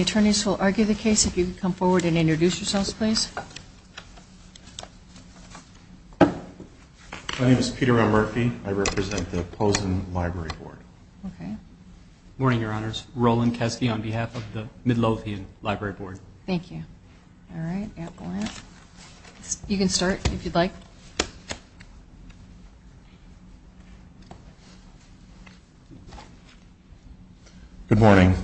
Attorney's will argue the case if you would come forward and introduce yourselves please. My name is Peter O'Murphy. I represent the Posen Library Board. Good morning, your honors. Roland Caskey on behalf of the Midlothian Library Board. Thank you. Alright, Antoine. You can start if you'd like. Good morning.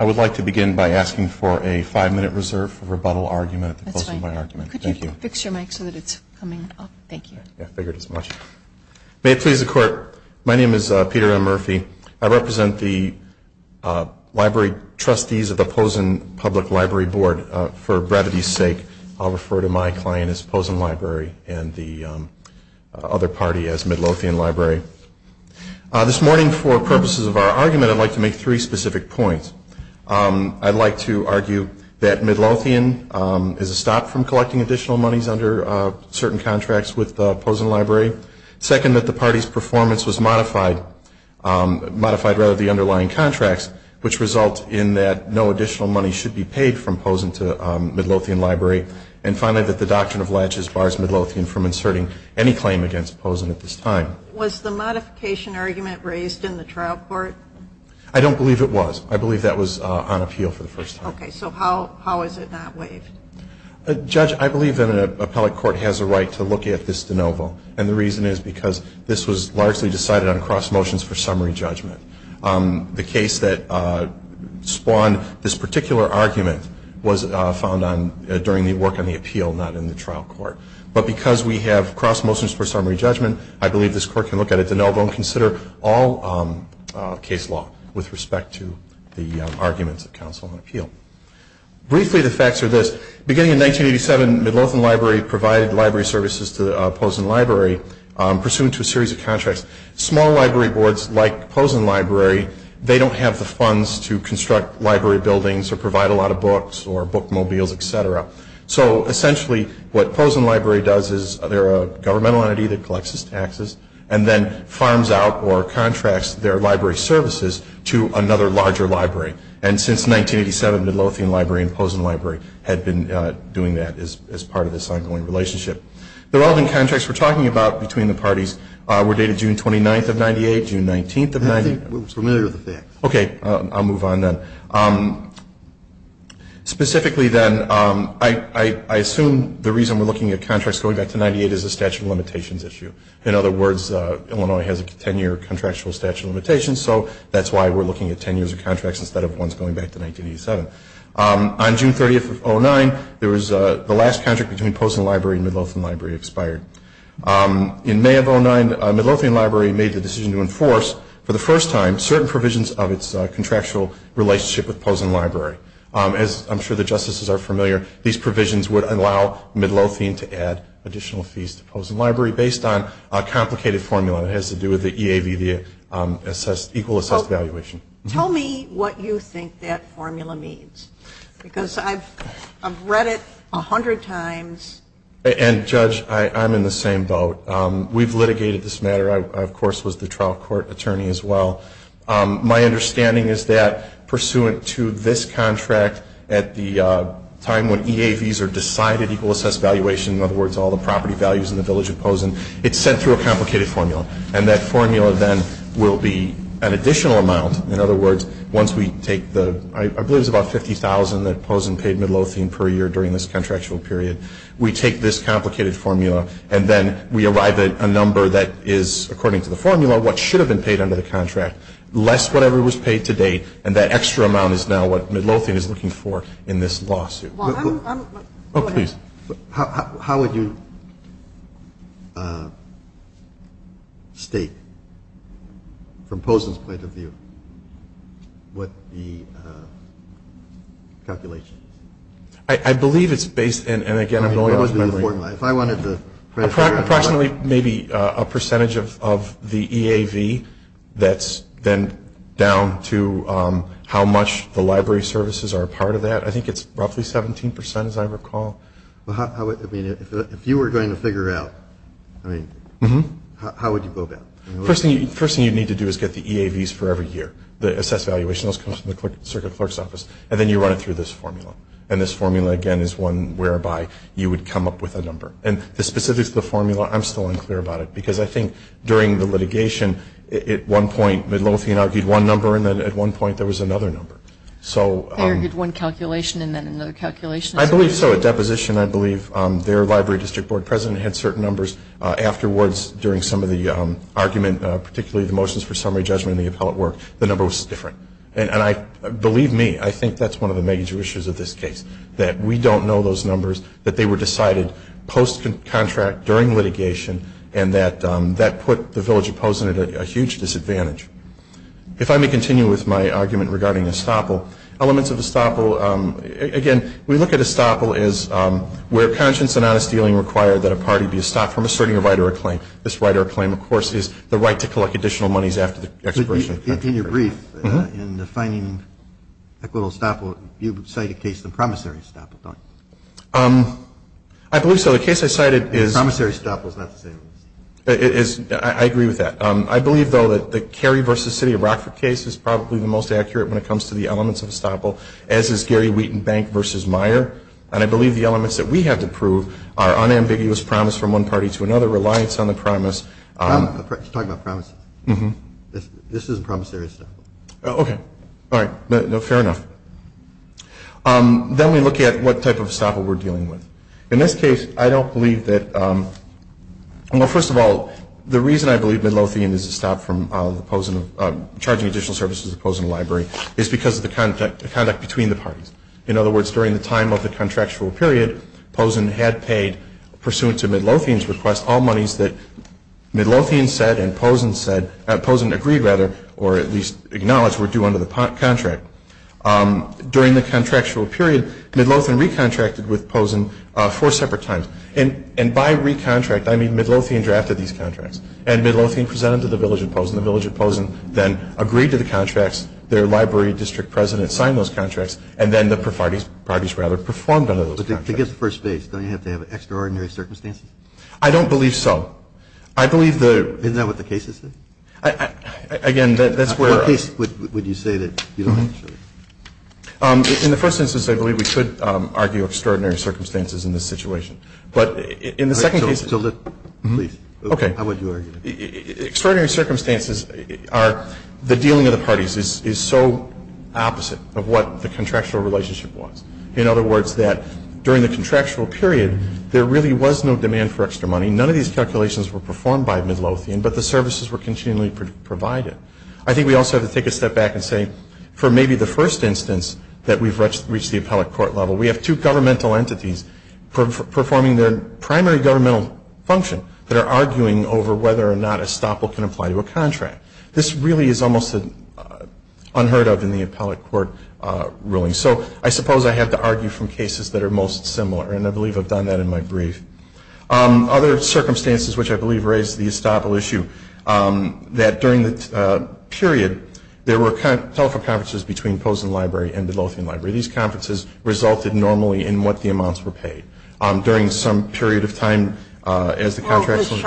I would like to begin by asking for a five minute reserve for rebuttal argument. That's fine. Thank you. Could you fix your mic so that it's coming up? Thank you. May it please the court. My name is Peter O'Murphy. I represent the Library Trustees of the Posen Public Library Board. For brevity's sake, I'll refer to my client as Posen Library and the other party as Midlothian Library. This morning, for purposes of our argument, I'd like to make three specific points. I'd like to argue that Midlothian is a stop from collecting additional monies under certain contracts with the Posen Library. Second, that the party's performance was modified by the underlying contracts, which results in that no additional money should be paid from Posen to Midlothian Library. And finally, that the doctrine of latches bars Midlothian from inserting any claim against Posen at this time. Was the modification argument raised in the trial court? I don't believe it was. I believe that was on appeal for the first time. Okay. So how is it not raised? Judge, I believe that an appellate court has a right to look at this de novo. And the reason is because this was largely decided on cross motions for summary judgment. The case that spawned this particular argument was found during the work on the appeal, not in the trial court. But because we have cross motions for summary judgment, I believe this court can look at it de novo and consider all case law with respect to the arguments of counsel on appeal. Briefly, the facts are this. Beginning in 1987, Midlothian Library provided library services to Posen Library, pursuant to a series of contracts. Small library boards like Posen Library, they don't have the funds to construct library buildings or provide a lot of books or bookmobiles, et cetera. So essentially, what Posen Library does is they're a governmental entity that collects taxes and then funds out or contracts their library services to another larger library. And since 1987, Midlothian Library and Posen Library have been doing that as part of this ongoing relationship. The relevant contracts we're talking about between the parties were dated June 29th of 98, June 19th of 98. I think we're familiar with the facts. Okay. I'll move on then. Specifically then, I assume the reason we're looking at contracts going back to 98 is a statute of limitations issue. In other words, Illinois has a 10-year contractual statute of limitations, so that's why we're looking at 10 years of contracts instead of ones going back to 1987. On June 30th of 2009, the last contract between Posen Library and Midlothian Library expired. In May of 2009, Midlothian Library made the decision to enforce, for the first time, certain provisions of its contractual relationship with Posen Library. As I'm sure the justices are familiar, these provisions would allow Midlothian to add additional fees to Posen Library based on a complicated formula that has to do with the EABD equal assessed valuation. Tell me what you think that formula means, because I've read it 100 times. And, Judge, I'm in the same boat. We've litigated this matter. I, of course, was the trial court attorney as well. My understanding is that, pursuant to this contract, at the time when EABs are decided equal assessed valuation, in other words, all the property values in the village of Posen, it's sent through a complicated formula. And that formula then will be an additional amount. In other words, once we take the, I believe it's about $50,000 that Posen paid Midlothian per year during this contractual period, we take this complicated formula and then we arrive at a number that is, according to the formula, what should have been paid under the contract, less whatever was paid to date, and that extra amount is now what Midlothian is looking for in this lawsuit. Oh, please. How would you state, from Posen's point of view, what the calculation is? I believe it's based, and, again, I'm going to... If I wanted to... Approximately maybe a percentage of the EAV that's then down to how much the library services are a part of that. I think it's roughly 17%, as I recall. If you were going to figure it out, I mean, how would you go about it? The first thing you need to do is get the EAVs for every year, the assessed valuation that comes from the circuit clerk's office, and then you run it through this formula. And this formula, again, is one whereby you would come up with a number. And the specifics of the formula, I'm still unclear about it, because I think during the litigation, at one point, Midlothian argued one number, and then at one point there was another number. They argued one calculation and then another calculation? I believe so. At that position, I believe their library district board president had certain numbers. Afterwards, during some of the argument, particularly the motions for summary judgment and the appellate work, the number was different. And believe me, I think that's one of the major issues of this case, that we don't know those numbers, that they were decided post-contract, during litigation, and that that put the village of Posen at a huge disadvantage. If I may continue with my argument regarding estoppel, elements of estoppel, again, we look at estoppel as where conscience and honest dealing require that a party be estopped from asserting a right or a claim. This right or a claim, of course, is the right to collect additional monies after the expiration. In your brief, in defining equitable estoppel, you cite a case of the promissory estoppel, don't you? I believe so. The case I cited is- Promissory estoppel is not the same. I agree with that. I believe, though, that the Cary v. City of Rockford case is probably the most accurate when it comes to the elements of estoppel, as is Gary Wheaton Bank v. Meyer, and I believe the elements that we have to prove are unambiguous promise from one party to another, reliance on the promise- He's talking about promise. This is a promissory estoppel. Okay. All right. Fair enough. Then we look at what type of estoppel we're dealing with. In this case, I don't believe that- Well, first of all, the reason I believe Midlothian is estopped from charging additional services to Posen Library is because of the conduct between the parties. In other words, during the time of the contractual period, Posen had paid, pursuant to Midlothian's request, all monies that Midlothian said and Posen said- Posen agreed, rather, or at least acknowledged were due under the contract. During the contractual period, Midlothian recontracted with Posen four separate times, and by recontract, I mean Midlothian drafted these contracts, and Midlothian presented them to the village of Posen. The village of Posen then agreed to the contracts. Their library district president signed those contracts, and then the parties, rather, performed under those contracts. But to get to first base, don't you have to have extraordinary circumstances? I don't believe so. I believe the- Isn't that what the case has said? Again, that's where- What case would you say that you don't want to see? In the first instance, I believe we should argue extraordinary circumstances in this situation. But in the second case- To list. Okay. How would you argue? Extraordinary circumstances are- The dealing of the parties is so opposite of what the contractual relationship was. In other words, that during the contractual period, there really was no demand for extra money. None of these calculations were performed by Midlothian, but the services were continually provided. I think we also have to take a step back and say, for maybe the first instance that we've reached the appellate court level, we have two governmental entities performing their primary governmental function that are arguing over whether or not estoppel can apply to a contract. This really is almost unheard of in the appellate court ruling. So I suppose I have to argue from cases that are most similar, and I believe I've done that in my brief. Other circumstances which I believe raise the estoppel issue, that during the period, there were telephone conferences between Posen Library and Midlothian Library. These conferences resulted normally in what the amounts were paid. During some period of time, as the contracts went on. Well, Ms.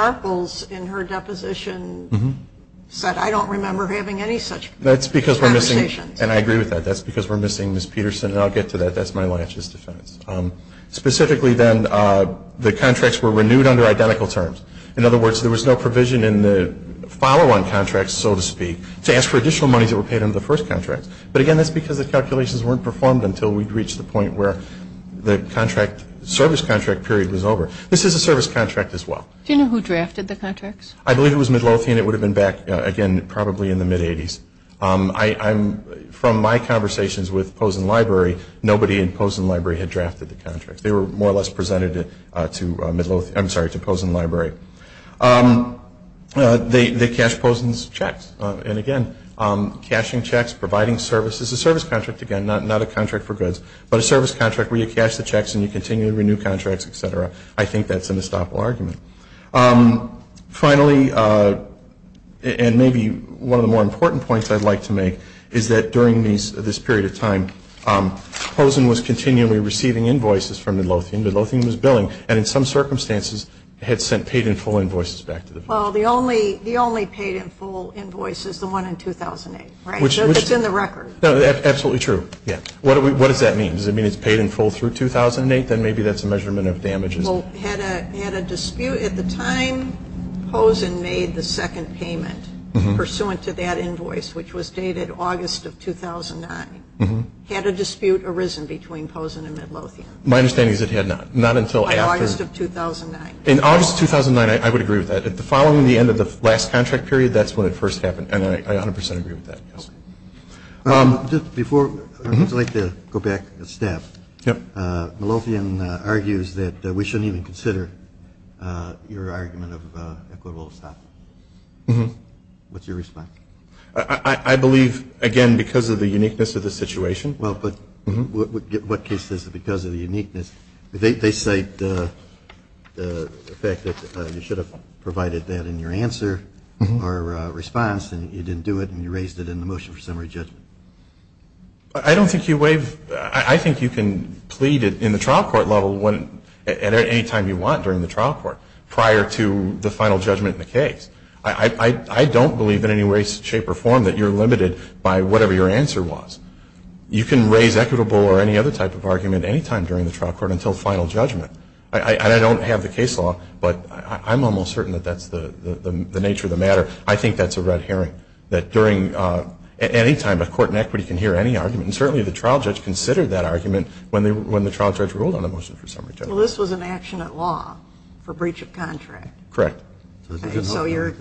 Sharples, in her deposition, said, I don't remember having any such conversations. That's because we're missing, and I agree with that, that's because we're missing Ms. Peterson, and I'll get to that. That's my last just a second. Specifically then, the contracts were renewed under identical terms. In other words, there was no provision in the follow-on contracts, so to speak, to ask for additional money that were paid under the first contract. But again, that's because the calculations weren't performed until we'd reached the point where the service contract period was over. This is a service contract as well. Do you know who drafted the contracts? I believe it was Midlothian. It would have been back, again, probably in the mid-'80s. From my conversations with Posen Library, nobody in Posen Library had drafted the contracts. They were more or less presented to Posen Library. They cashed Posen's checks, and again, cashing checks, providing services. A service contract, again, not a contract for goods, but a service contract where you cash the checks and you continue to renew contracts, et cetera. I think that's an estoppel argument. Finally, and maybe one of the more important points I'd like to make, is that during this period of time, Posen was continually receiving invoices from Midlothian. Midlothian was billing, and in some circumstances, had sent paid-in-full invoices back to the firm. Well, the only paid-in-full invoice is the one in 2008, right? It's in the record. That's absolutely true. What does that mean? Does it mean it's paid-in-full through 2008? Then maybe that's a measurement of damages. Well, at the time, Posen made the second payment pursuant to that invoice, which was dated August of 2009. Had a dispute arisen between Posen and Midlothian? My understanding is it had not. August of 2009. In August of 2009, I would agree with that. Following the end of the last contract period, that's when it first happened, and I 100% agree with that. Just before, I'd like to go back to staff. Midlothian argues that we shouldn't even consider your argument of equitable estoppel. What's your response? I believe, again, because of the uniqueness of the situation. Well, but what case is it because of the uniqueness? They cite the fact that you should have provided that in your answer or response, and you didn't do it, and you raised it in the motion for summary judgment. I don't think you waive. I think you can plead in the trial court level at any time you want during the trial court prior to the final judgment in the case. I don't believe in any way, shape, or form that you're limited by whatever your answer was. You can raise equitable or any other type of argument any time during the trial court until final judgment. I don't have the case law, but I'm almost certain that that's the nature of the matter. I think that's a red herring, that during any time a court in equity can hear any argument, and certainly the trial judge considered that argument when the trial judge ruled on the motion for summary judgment. Well, this was an action at law for breach of contract. Correct. So you're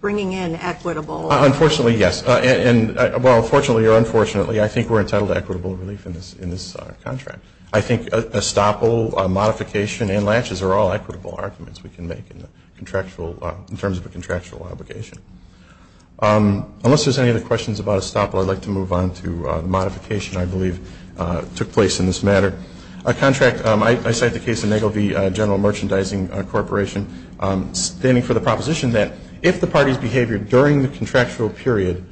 bringing in equitable. Unfortunately, yes. Well, fortunately or unfortunately, I think we're entitled to equitable relief in this contract. I think estoppel, modification, and latches are all equitable arguments we can make in terms of a contractual obligation. Unless there's any other questions about estoppel, I'd like to move on to the modification I believe took place in this matter. A contract, I cite the case of Nagel v. General Merchandising Corporation, standing for the proposition that if the party's behavior during the contractual period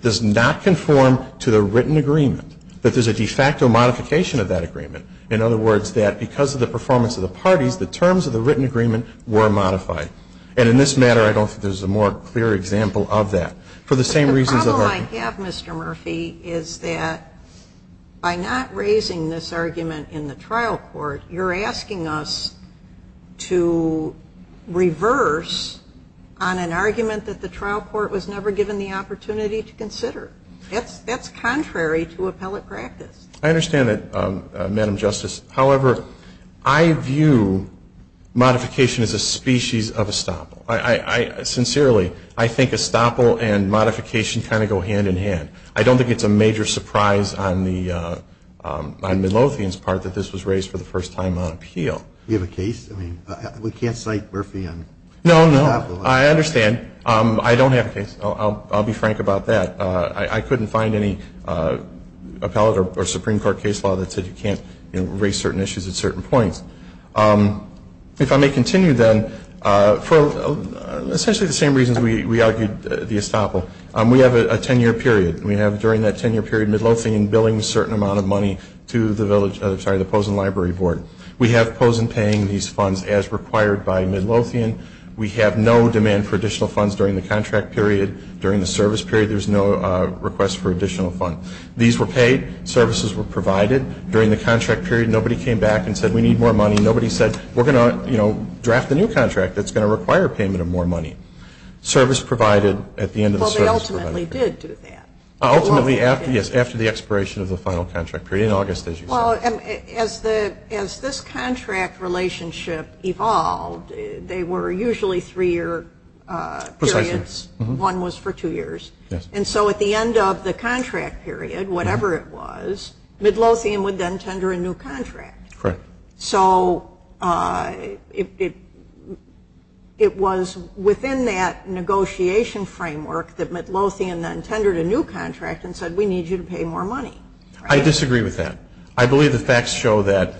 does not conform to the written agreement, that there's a de facto modification of that agreement. In other words, that because of the performance of the parties, the terms of the written agreement were modified. And in this matter, I don't think there's a more clear example of that. The problem I have, Mr. Murphy, is that by not raising this argument in the trial court, you're asking us to reverse on an argument that the trial court was never given the opportunity to consider. That's contrary to appellate practice. I understand that, Madam Justice. However, I view modification as a species of estoppel. Sincerely, I think estoppel and modification kind of go hand in hand. I don't think it's a major surprise on the Milosevian's part that this was raised for the first time on appeal. Do you have a case? I mean, we can't cite Murphy on estoppel. No, no. I understand. I don't have a case. I'll be frank about that. I couldn't find any appellate or Supreme Court case law that said you can't raise certain issues at certain points. If I may continue then, for essentially the same reasons we argued the estoppel, we have a 10-year period. We have, during that 10-year period, Milosevian billing a certain amount of money to the Pozen Library Board. We have Pozen paying these funds as required by Milosevian. We have no demand for additional funds during the contract period. During the service period, there's no request for additional funds. These were paid. Services were provided. During the contract period, nobody came back and said, we need more money. Nobody said, we're going to draft a new contract that's going to require payment of more money. Service provided at the end of the service period. Well, they ultimately did do that. Ultimately, yes, after the expiration of the final contract period in August, as you said. As this contract relationship evolved, they were usually three-year periods. One was for two years. And so at the end of the contract period, whatever it was, Milosevian would then tender a new contract. Correct. So it was within that negotiation framework that Milosevian then tendered a new contract and said, we need you to pay more money. I disagree with that. I believe the facts show that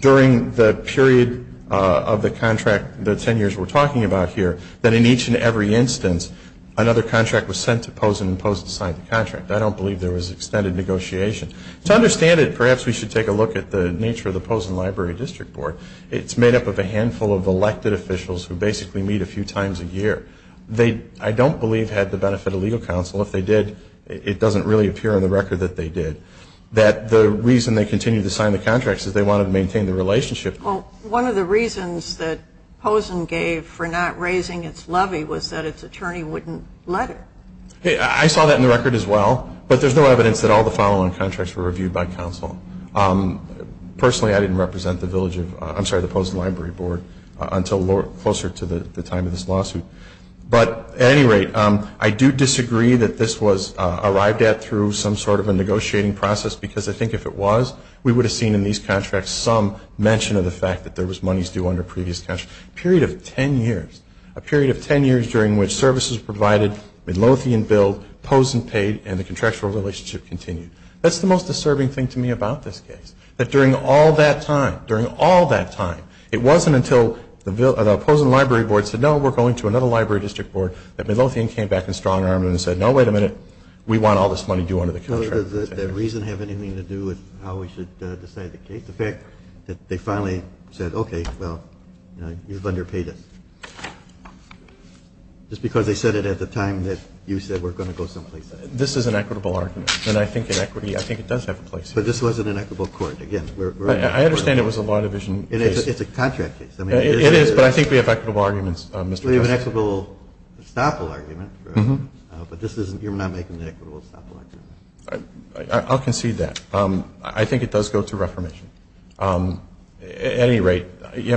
during the period of the contract, the 10 years we're talking about here, that in each and every instance, another contract was sent to Pozen and Pozen signed the contract. I don't believe there was extended negotiation. To understand it, perhaps we should take a look at the nature of the Pozen Library District Board. It's made up of a handful of elected officials who basically meet a few times a year. They, I don't believe, had the benefit of legal counsel. If they did, it doesn't really appear on the record that they did. That the reason they continued to sign the contracts is they wanted to maintain the relationship. Well, one of the reasons that Pozen gave for not raising its levy was that its attorney wouldn't let it. I saw that in the record as well, but there's no evidence that all the following contracts were reviewed by counsel. Personally, I didn't represent the Pozen Library Board until closer to the time of this lawsuit. But at any rate, I do disagree that this was arrived at through some sort of a negotiating process because I think if it was, we would have seen in these contracts some mention of the fact that there was monies due under previous contracts. A period of 10 years, a period of 10 years during which services provided, Midlothian billed, Pozen paid, and the contractual relationship continued. That's the most disturbing thing to me about this case, that during all that time, during all that time, it wasn't until the Pozen Library Board said, no, we're going to another library district board, that Midlothian came back in strong arms and said, no, wait a minute, we want all this money due under the contract. Does that reason have anything to do with how we should decide the case? They finally said, OK, well, you've underpaid it. It's because they said it at the time that you said we're going to go someplace else. This is an equitable argument. And I think in equity, I think it does have a place. But this was an equitable court. Again, we're right. I understand it was a law division. It is. It's a contract case. It is, but I think we have equitable arguments. We have an equitable estoppel argument. But you're not making an equitable estoppel argument. I'll concede that. I think it does go through reformation. At any rate,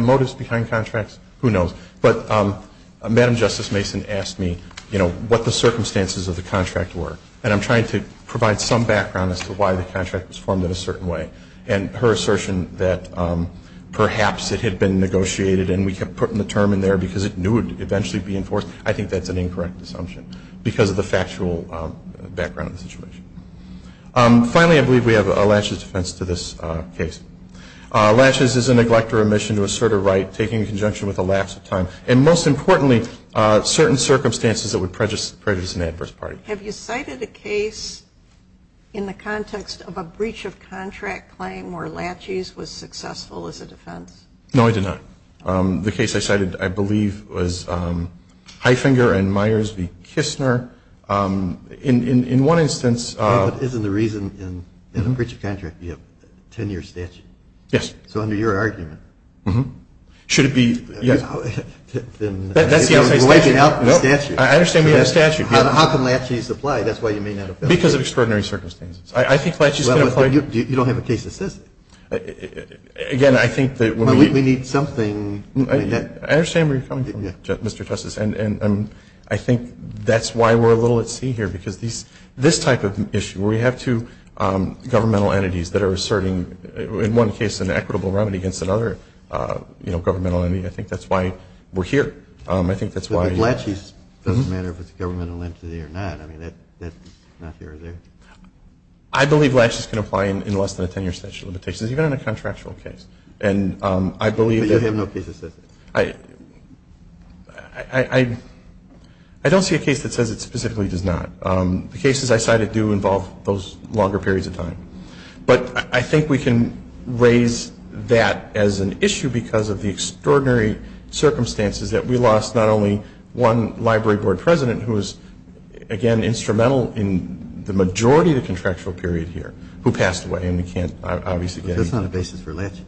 motives behind contracts? Who knows. But Madam Justice Mason asked me what the circumstances of the contract were. And I'm trying to provide some background as to why the contract was formed in a certain way. And her assertion that perhaps it had been negotiated and we could put the term in there because it knew it would eventually be enforced, I think that's an incorrect assumption because of the factual background of the situation. Finally, I believe we have a laches defense to this case. Laches is a neglect or omission to assert a right taking in conjunction with a lapse of time. And most importantly, certain circumstances that would prejudice an adverse party. Have you cited a case in the context of a breach of contract claim where laches was successful as a defense? No, I did not. The case I cited, I believe, was Highfinger and Myers v. Kistner. In one instance- But isn't the reason in a breach of contract to be a 10-year statute? Yes. So under your argument- Mm-hmm. Should it be- I understand you mean a statute. How can laches apply? That's why you mean- Because of extraordinary circumstances. I think laches- You don't have a case assistant. Again, I think that- We need something- I understand where you're coming from, Mr. Justice. And I think that's why we're a little at sea here. Because this type of issue, where you have two governmental entities that are asserting, in one case, an equitable remedy against another governmental entity, I think that's why we're here. I think that's why- But laches doesn't matter if it's a governmental entity or not. I mean, that's not here or there. I believe laches can apply in less than a 10-year statute of limitations, even in a contractual case. And I believe- But you have no case assistant. I don't see a case that says it specifically does not. The cases I cited do involve those longer periods of time. But I think we can raise that as an issue because of the extraordinary circumstances that we lost not only one library board president, who was, again, instrumental in the majority of the contractual period here, who passed away. And we can't, obviously- But that's not a basis for laches.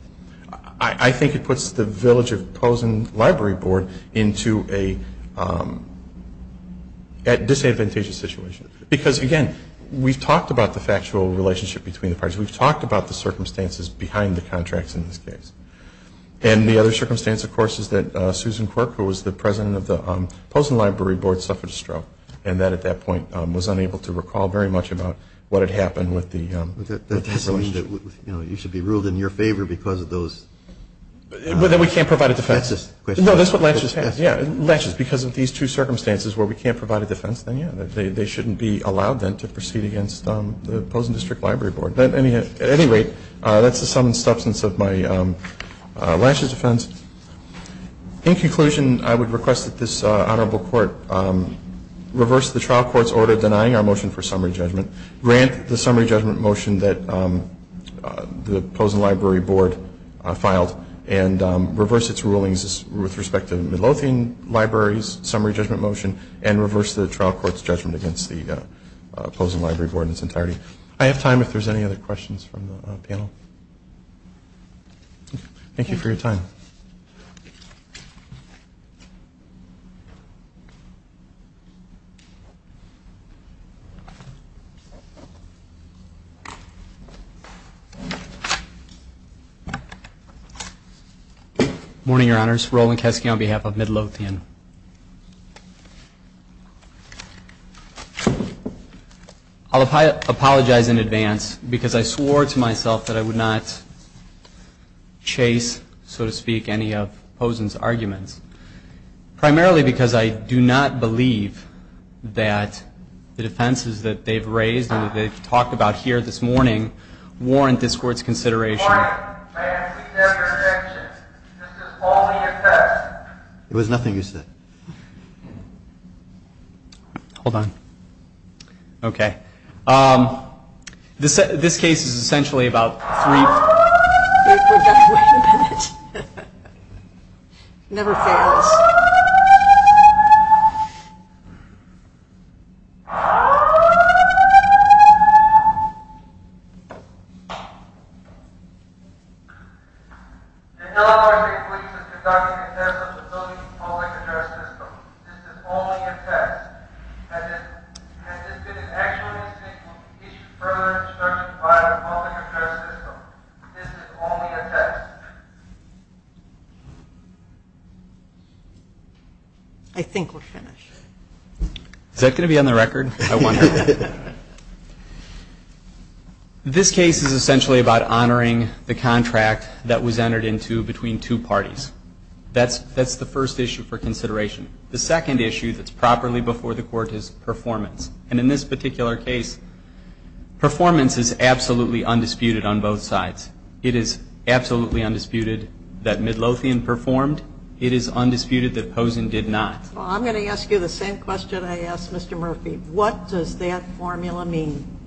I think it puts the village of Pozen Library Board into a disadvantageous situation. Because, again, we've talked about the factual relationship between the parties. We've talked about the circumstances behind the contracts in this case. And the other circumstance, of course, is that Susan Corker, who was the president of the Pozen Library Board, suffered a stroke. And that, at that point, was unable to recall very much about what had happened with the- It should be ruled in your favor because of those- Well, then we can't provide a defense. No, that's what laches has. Yeah, laches, because of these two circumstances where we can't provide a defense, then, yeah, they shouldn't be allowed then to proceed against the Pozen District Library Board. At any rate, that's the sum and substance of my laches defense. In conclusion, I would request that this honorable court reverse the trial court's order denying our motion for summary judgment, grant the summary judgment motion that the Pozen Library Board filed, and reverse its rulings with respect to Midlothian Library's summary judgment motion, and reverse the trial court's judgment against the Pozen Library Board in its entirety. I have time if there's any other questions from the panel. Thank you for your time. Good morning, Your Honors. Roland Kesky on behalf of Midlothian. I'll apologize in advance because I swore to myself that I would not chase, so to speak, any of Pozen's arguments, primarily because I do not believe that the defenses that they've raised and that they've talked about here this morning warrant this court's consideration. Your Honor, I have to be there for an injunction. This is all that you said. There was nothing you said. Hold on. Okay. This case is essentially about three... I forgot what I was going to say. Never say never. Hold on. The Illinois District Police Department and their responsibility to follow the current system. This is only a test. And if this actually is true, it should further certify that following the current system. This is only a test. I think we're finished. Is that going to be on the record? This case is essentially about honoring the contract that was entered into between two parties. That's the first issue for consideration. The second issue that's properly before the court is performance. And in this particular case, performance is absolutely undisputed on both sides. It is absolutely undisputed that Midlothian performed. It is undisputed that Pozen did not. Well, I'm going to ask you the same question I asked Mr. Murphy. What does that formula mean?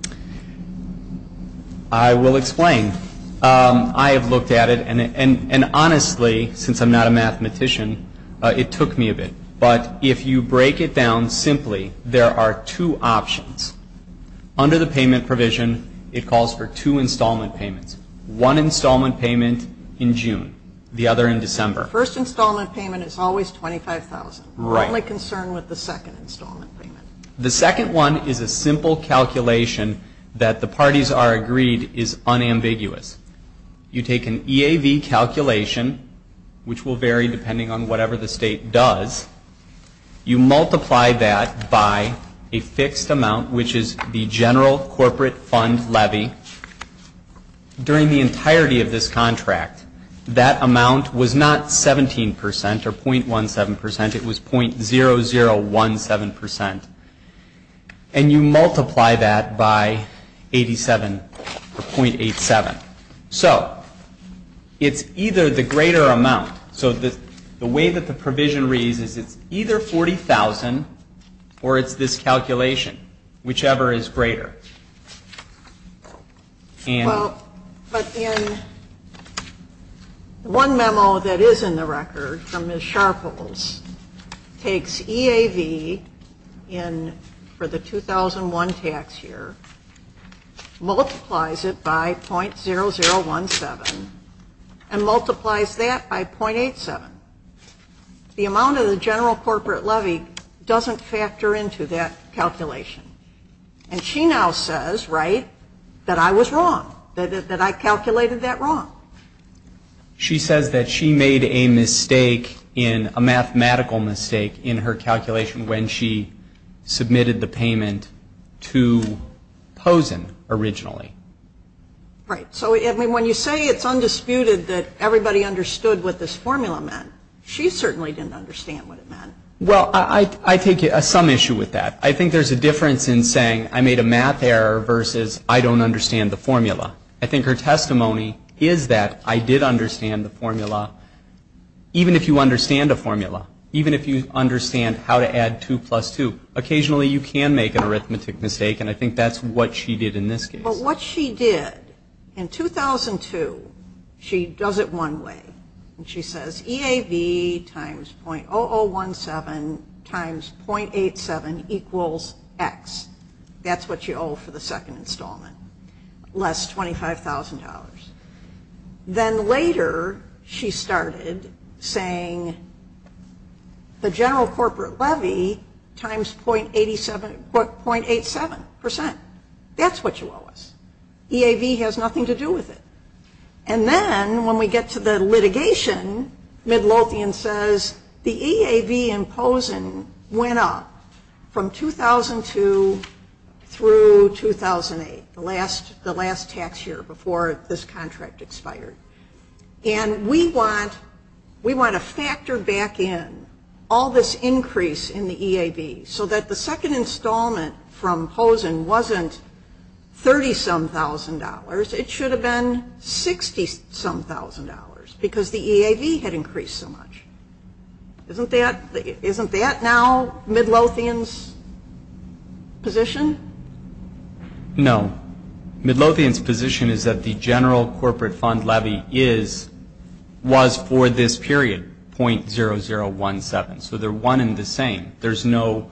I will explain. I have looked at it, and honestly, since I'm not a mathematician, it took me a bit. But if you break it down simply, there are two options. Under the payment provision, it calls for two installment payments. One installment payment in June. The other in December. The first installment payment is always $25,000. I'm only concerned with the second installment payment. The second one is a simple calculation that the parties are agreed is unambiguous. You take an EAV calculation, which will vary depending on whatever the state does. You multiply that by a fixed amount, which is the general corporate fund levy, during the entirety of this contract. That amount was not 17% or .17%. It was .0017%. And you multiply that by 87 or .87. So, it is either the greater amount, so the way that the provision reads, it is either $40,000 or it is this calculation, whichever is greater. Well, but in one memo that is in the record from Ms. Sharples, takes EAV for the 2001 tax year, multiplies it by .0017, and multiplies that by .87. The amount of the general corporate levy doesn't factor into that calculation. And she now says, right, that I was wrong, that I calculated that wrong. She says that she made a mistake, a mathematical mistake, in her calculation when she submitted the payment to Pozen originally. Right. So, when you say it is undisputed that everybody understood what this formula meant, she certainly didn't understand what it meant. Well, I take some issue with that. I think there is a difference in saying I made a math error versus I don't understand the formula. I think her testimony is that I did understand the formula, even if you understand the formula, even if you understand how to add 2 plus 2. Occasionally, you can make an arithmetic mistake, and I think that is what she did in this case. But what she did in 2002, she does it one way. She says EAV times .0017 times .87 equals X. That is what you owe for the second installment, less $25,000. Then later, she started saying the general corporate levy times .87 percent. That is what you owe us. EAV has nothing to do with it. Then, when we get to the litigation, Midlopian says the EAV in Pozen went up from 2002 through 2008, the last tax year before this contract expired. We want to factor back in all this increase in the EAV so that the second installment from Pozen wasn't $30,000, it should have been $60,000 because the EAV had increased so much. Isn't that now Midlopian's position? Midlopian's position is that the general corporate fund levy was for this period, .0017. So they're one and the same. There's no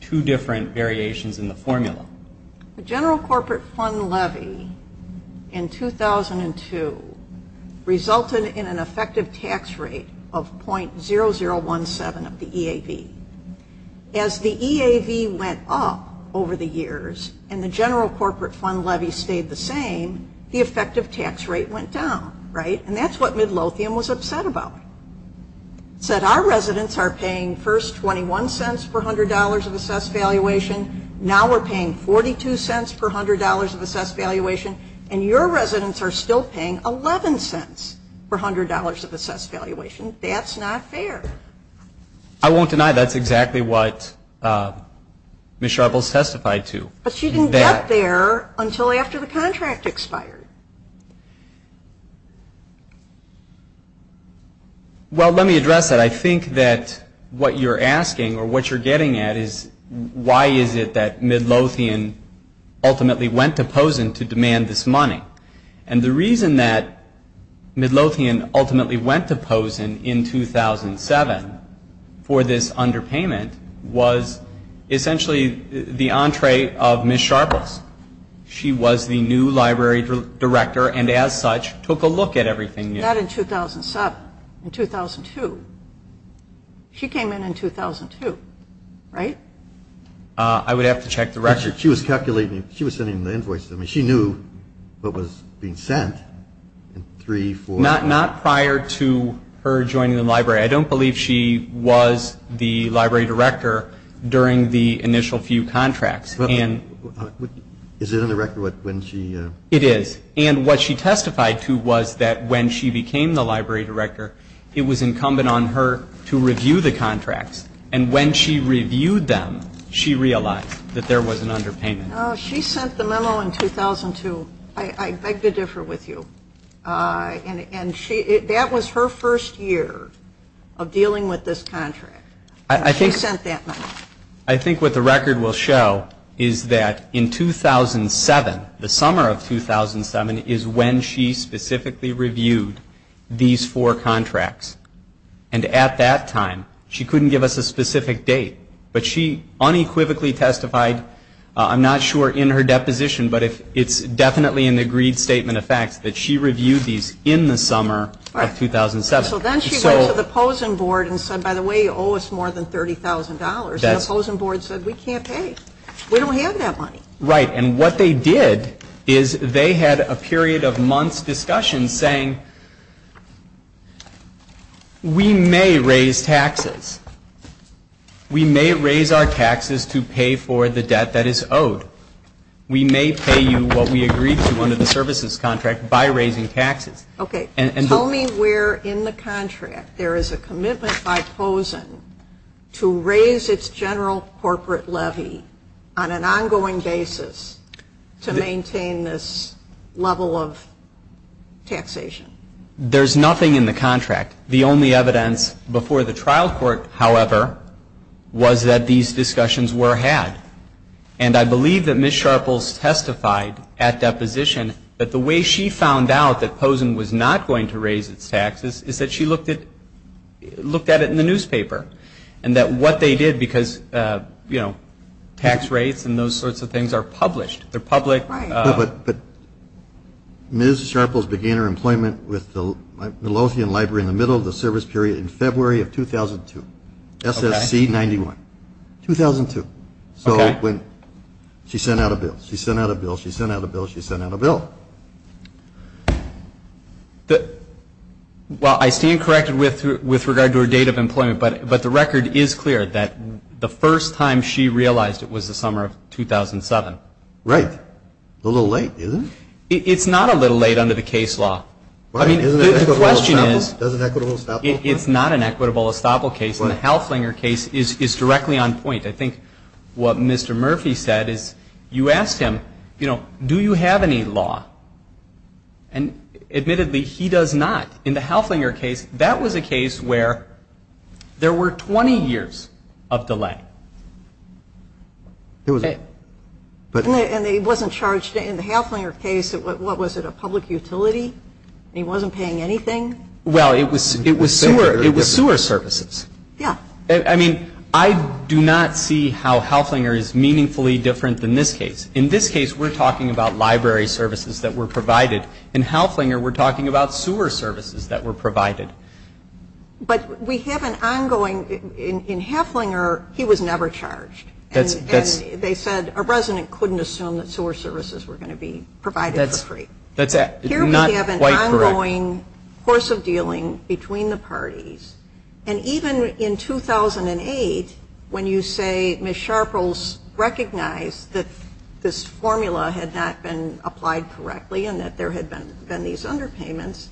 two different variations in the formula. The general corporate fund levy in 2002 resulted in an effective tax rate of .0017 of the EAV. As the EAV went up over the years and the general corporate fund levy stayed the same, the effective tax rate went down, right? And that's what Midlopian was upset about. Midlopian said our residents are paying first $0.21 for $100 of assessed valuation, now we're paying $0.42 for $100 of assessed valuation, and your residents are still paying $0.11 for $100 of assessed valuation. That's not fair. I won't deny that's exactly what Ms. Sharples testified to. But she didn't get there until after the contract expired. Well, let me address that. I think that what you're asking or what you're getting at is why is it that Midlopian ultimately went to Pozen to demand this money? And the reason that Midlopian ultimately went to Pozen in 2007 for this underpayment was essentially the entree of Ms. Sharples. She was the new library director and, as such, took a look at everything. Not in 2007. In 2002. She came in in 2002, right? I would have to check the record. She was calculating. She was sending the invoice to me. She knew what was being sent. Not prior to her joining the library. I don't believe she was the library director during the initial few contracts. Is it in the record when she? It is. And what she testified to was that when she became the library director, it was incumbent on her to review the contracts. And when she reviewed them, she realized that there was an underpayment. She sent the memo in 2002. I did differ with you. And that was her first year of dealing with this contract. She sent that memo. I think what the record will show is that in 2007, the summer of 2007, is when she specifically reviewed these four contracts. And at that time, she couldn't give us a specific date. But she unequivocally testified, I'm not sure in her deposition, but it's definitely an agreed statement of fact that she reviewed these in the summer of 2007. So then she went to the opposing board and said, by the way, you owe us more than $30,000. And the opposing board said, we can't pay. We don't have that money. Right. And what they did is they had a period of months' discussion saying, we may raise taxes. We may pay you what we agreed to under the services contract by raising taxes. Okay. Tell me where in the contract there is a commitment by Pozen to raise its general corporate levy on an ongoing basis to maintain this level of taxation. There's nothing in the contract. The only evidence before the trial court, however, was that these discussions were had. And I believe that Ms. Sharples testified at that position that the way she found out that Pozen was not going to raise its taxes is that she looked at it in the newspaper. And that what they did because, you know, tax rates and those sorts of things are published. They're public. But Ms. Sharples began her employment with the Lothian Library in the middle of the service period in February of 2002. Okay. SSC 91. 2002. Okay. So when she sent out a bill. She sent out a bill. She sent out a bill. She sent out a bill. Well, I stand corrected with regard to her date of employment. But the record is clear that the first time she realized it was the summer of 2007. Right. A little late, isn't it? It's not a little late under the case law. I mean, the question is, it's not an equitable estoppel case. The Houslinger case is directly on point. I think what Mr. Murphy said is you ask him, you know, do you have any law? And admittedly, he does not. In the Houslinger case, that was a case where there were 20 years of delay. And he wasn't charged in the Houslinger case, what was it, a public utility? He wasn't paying anything? Well, it was sewer services. Yeah. I mean, I do not see how Houslinger is meaningfully different than this case. In this case, we're talking about library services that were provided. In Houslinger, we're talking about sewer services that were provided. But we have an ongoing, in Houslinger, he was never charged. And they said a resident couldn't assume that sewer services were going to be provided for free. Here we have an ongoing course of dealing between the parties. And even in 2008, when you say Ms. Sharples recognized that this formula had not been applied correctly and that there had been these underpayments,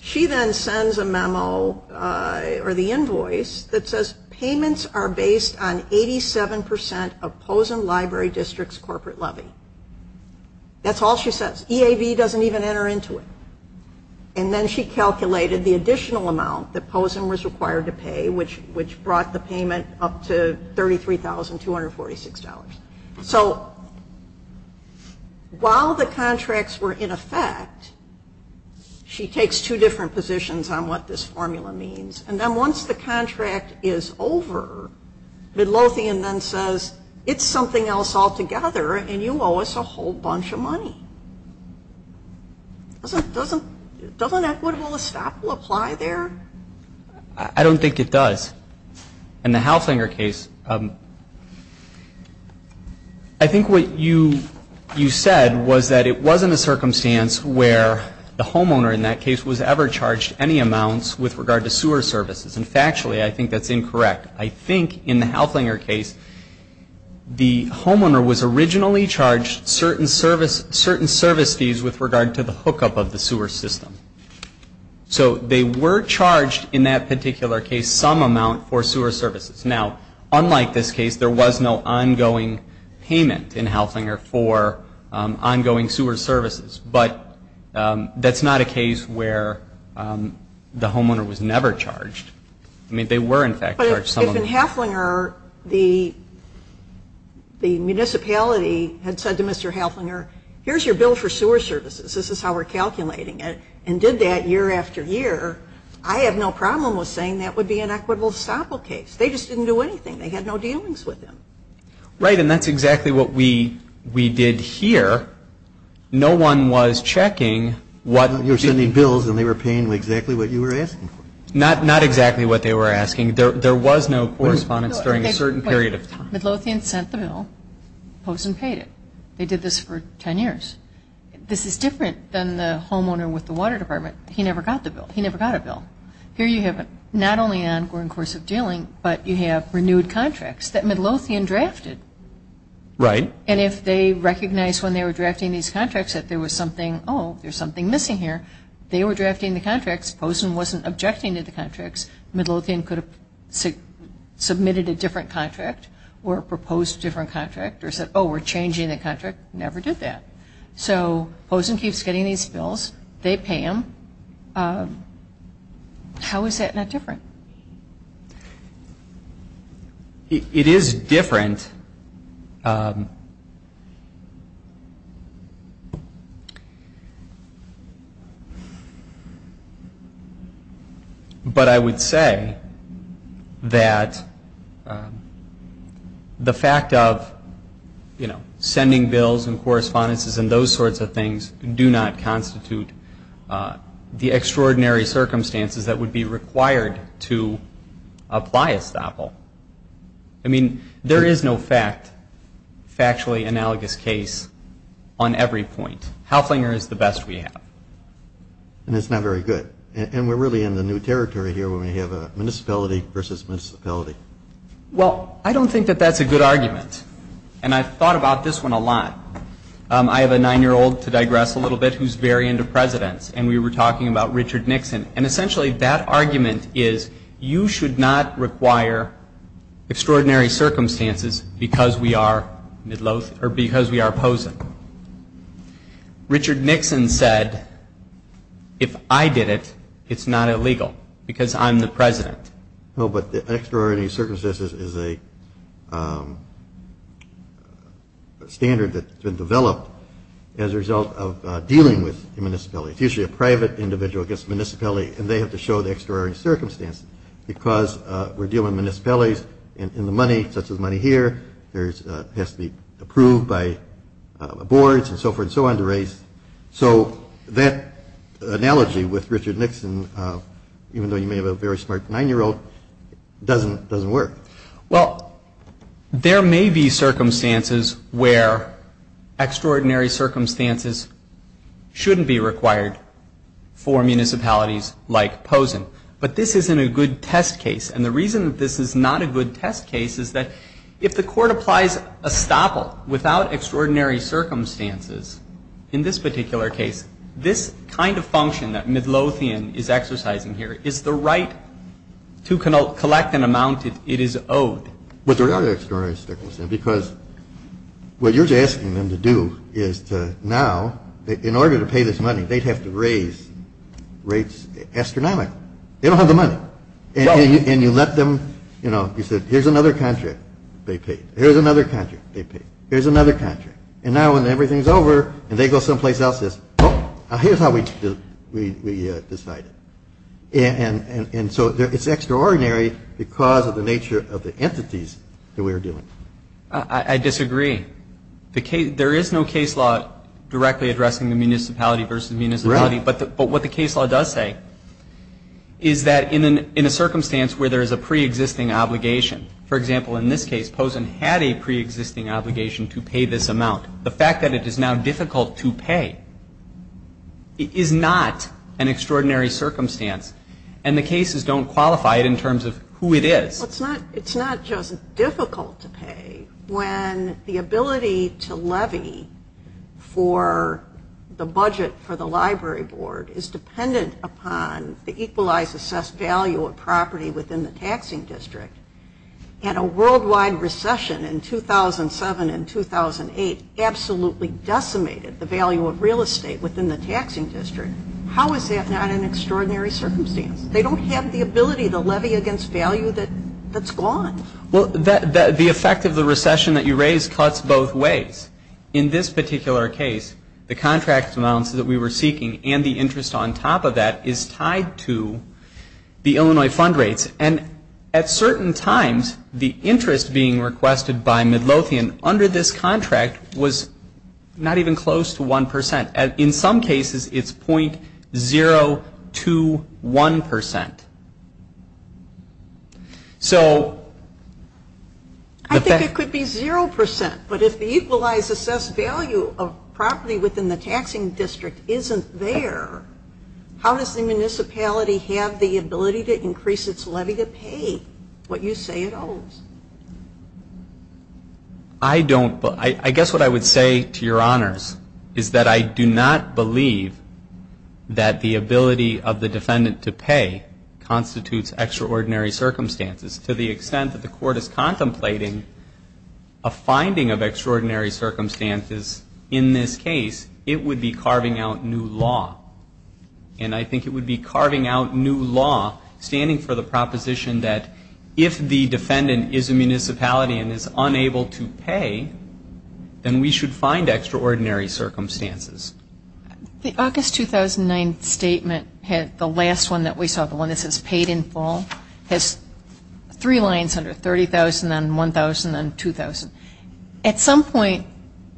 she then sends a memo, or the invoice, that says payments are based on 87% of Posen Library District's corporate levy. That's all she says. EAV doesn't even enter into it. And then she calculated the additional amount that Posen was required to pay, which brought the payment up to $33,246. So while the contracts were in effect, she takes two different positions on what this formula means. And then once the contract is over, Midlothian then says, it's something else altogether, and you owe us a whole bunch of money. Doesn't Edward Willis-Staple apply there? I don't think it does. In the Houslinger case, I think what you said was that it wasn't a circumstance where the homeowner in that case was ever charged any amounts with regard to sewer services. And factually, I think that's incorrect. I think in the Houslinger case, the homeowner was originally charged certain service fees with regard to the hookup of the sewer system. So they were charged in that particular case some amount for sewer services. Now, unlike this case, there was no ongoing payment in Houslinger for ongoing sewer services. But that's not a case where the homeowner was never charged. I mean, they were in fact charged some amount. But if in Houslinger, the municipality had said to Mr. Houslinger, here's your bill for sewer services, this is how we're calculating it, and did that year after year, I have no problem with saying that would be an equitable Staple case. They just didn't do anything. They had no dealings with them. Right, and that's exactly what we did here. No one was checking what... There were so many bills, and they were paying exactly what you were asking for. Not exactly what they were asking. There was no correspondence during a certain period of time. Midlothian sent the bill. Posen paid it. They did this for 10 years. This is different than the homeowner with the water department. He never got the bill. He never got a bill. Here you have not only an ongoing course of dealing, but you have renewed contracts that Midlothian drafted. Right. And if they recognized when they were drafting these contracts that there was something, oh, there's something missing here, they were drafting the contracts. Posen wasn't objecting to the contracts. Midlothian could have submitted a different contract or proposed a different contract or said, oh, we're changing the contract. Never did that. So Posen keeps getting these bills. They pay them. How is that not different? It is different. But I would say that the fact of, you know, sending bills and correspondences and those sorts of things do not constitute the extraordinary circumstances that would be required to apply a sample. I mean, there is no factually analogous case on every point. Halflinger is the best we have. And it's not very good. And we're really in the new territory here where we have a municipality versus municipality. Well, I don't think that that's a good argument. And I've thought about this one a lot. I have a nine-year-old, to digress a little bit, who's very into presidents. And we were talking about Richard Nixon. And essentially that argument is you should not require extraordinary circumstances because we are Midlothian or because we are Posen. Richard Nixon said, if I did it, it's not illegal because I'm the president. No, but the extraordinary circumstances is a standard that's been developed as a result of dealing with the municipality. It's usually a private individual against the municipality. And they have to show the extraordinary circumstances because we're dealing with municipalities and the money, such as money here, has to be approved by boards and so forth and so on to raise. So that analogy with Richard Nixon, even though you may have a very smart nine-year-old, doesn't work. Well, there may be circumstances where extraordinary circumstances shouldn't be required for municipalities like Posen. But this isn't a good test case. And the reason that this is not a good test case is that if the court applies estoppel without extraordinary circumstances, in this particular case, this kind of function that Midlothian is exercising here is the right to collect an amount it is owed. But there are extraordinary circumstances because what you're asking them to do is to now, in order to pay this money, they have to raise rates astronomically. They don't have the money. And you left them, you know, you said, here's another contract they paid. Here's another contract they paid. Here's another contract. And now when everything's over and they go someplace else, they say, oh, here's how we decided. And so it's extraordinary because of the nature of the entities that we were dealing with. I disagree. There is no case law directly addressing the municipality versus municipality. Correct. But what the case law does say is that in a circumstance where there is a preexisting obligation, for example, in this case, Pozen had a preexisting obligation to pay this amount. The fact that it is now difficult to pay is not an extraordinary circumstance. And the cases don't qualify it in terms of who it is. It's not just difficult to pay when the ability to levy for the budget for the library board is dependent upon the equalized assessed value of property within the taxing district. And a worldwide recession in 2007 and 2008 absolutely decimated the value of real estate within the taxing district. How is that not an extraordinary circumstance? They don't have the ability to levy against value that's gone. Well, the effect of the recession that you raised cuts both ways. In this particular case, the contract amount that we were seeking and the interest on top of that is tied to the Illinois fund rate. And at certain times, the interest being requested by Midlothian under this contract was not even close to 1%. In some cases, it's .021%. I think it could be 0%. But if the equalized assessed value of property within the taxing district isn't there, how does the municipality have the ability to increase its levy to pay what you say it owes? I guess what I would say to your honors is that I do not believe that the ability of the defendant to pay constitutes extraordinary circumstances. To the extent that the court is contemplating a finding of extraordinary circumstances, in this case, it would be carving out new law. And I think it would be carving out new law standing for the proposition that if the defendant is a municipality and is unable to pay, then we should find extraordinary circumstances. The August 2009 statement had the last one that we saw, the one that says paid in full, has three lines under it, 30,000 and 1,000 and 2,000. At some point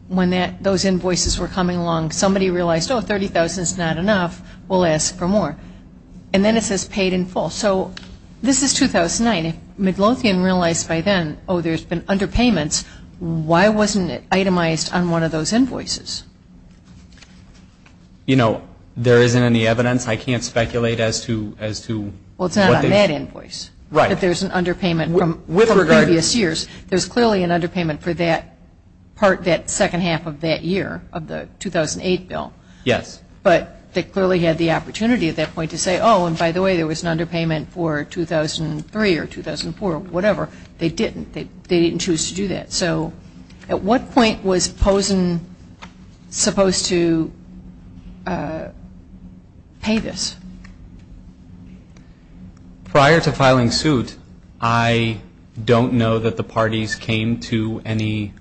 when those invoices were coming along, somebody realized, oh, 30,000 is not enough, we'll ask for more. And then it says paid in full. So this is 2009. If McGlothian realized by then, oh, there's been underpayments, why wasn't it itemized on one of those invoices? You know, there isn't any evidence. I can't speculate as to what the... Well, it's not on that invoice. Right. That there's an underpayment from previous years. There's clearly an underpayment for that part, that second half of that year of the 2008 bill. Yes. But they clearly had the opportunity at that point to say, oh, and by the way, there was an underpayment for 2003 or 2004 or whatever. They didn't. They didn't choose to do that. So at what point was Pozen supposed to pay this? Prior to filing suit, I don't know that the parties came to any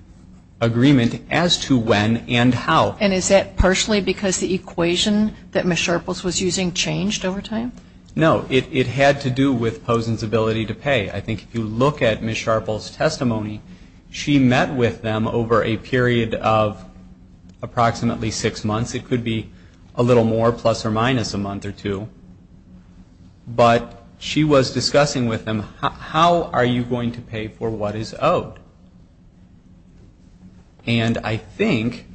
agreement as to when and how. And is that partially because the equation that Ms. Sharples was using changed over time? No. It had to do with Pozen's ability to pay. I think if you look at Ms. Sharples' testimony, she met with them over a period of approximately six months. It could be a little more, plus or minus a month or two. But she was discussing with them, how are you going to pay for what is owed? And I think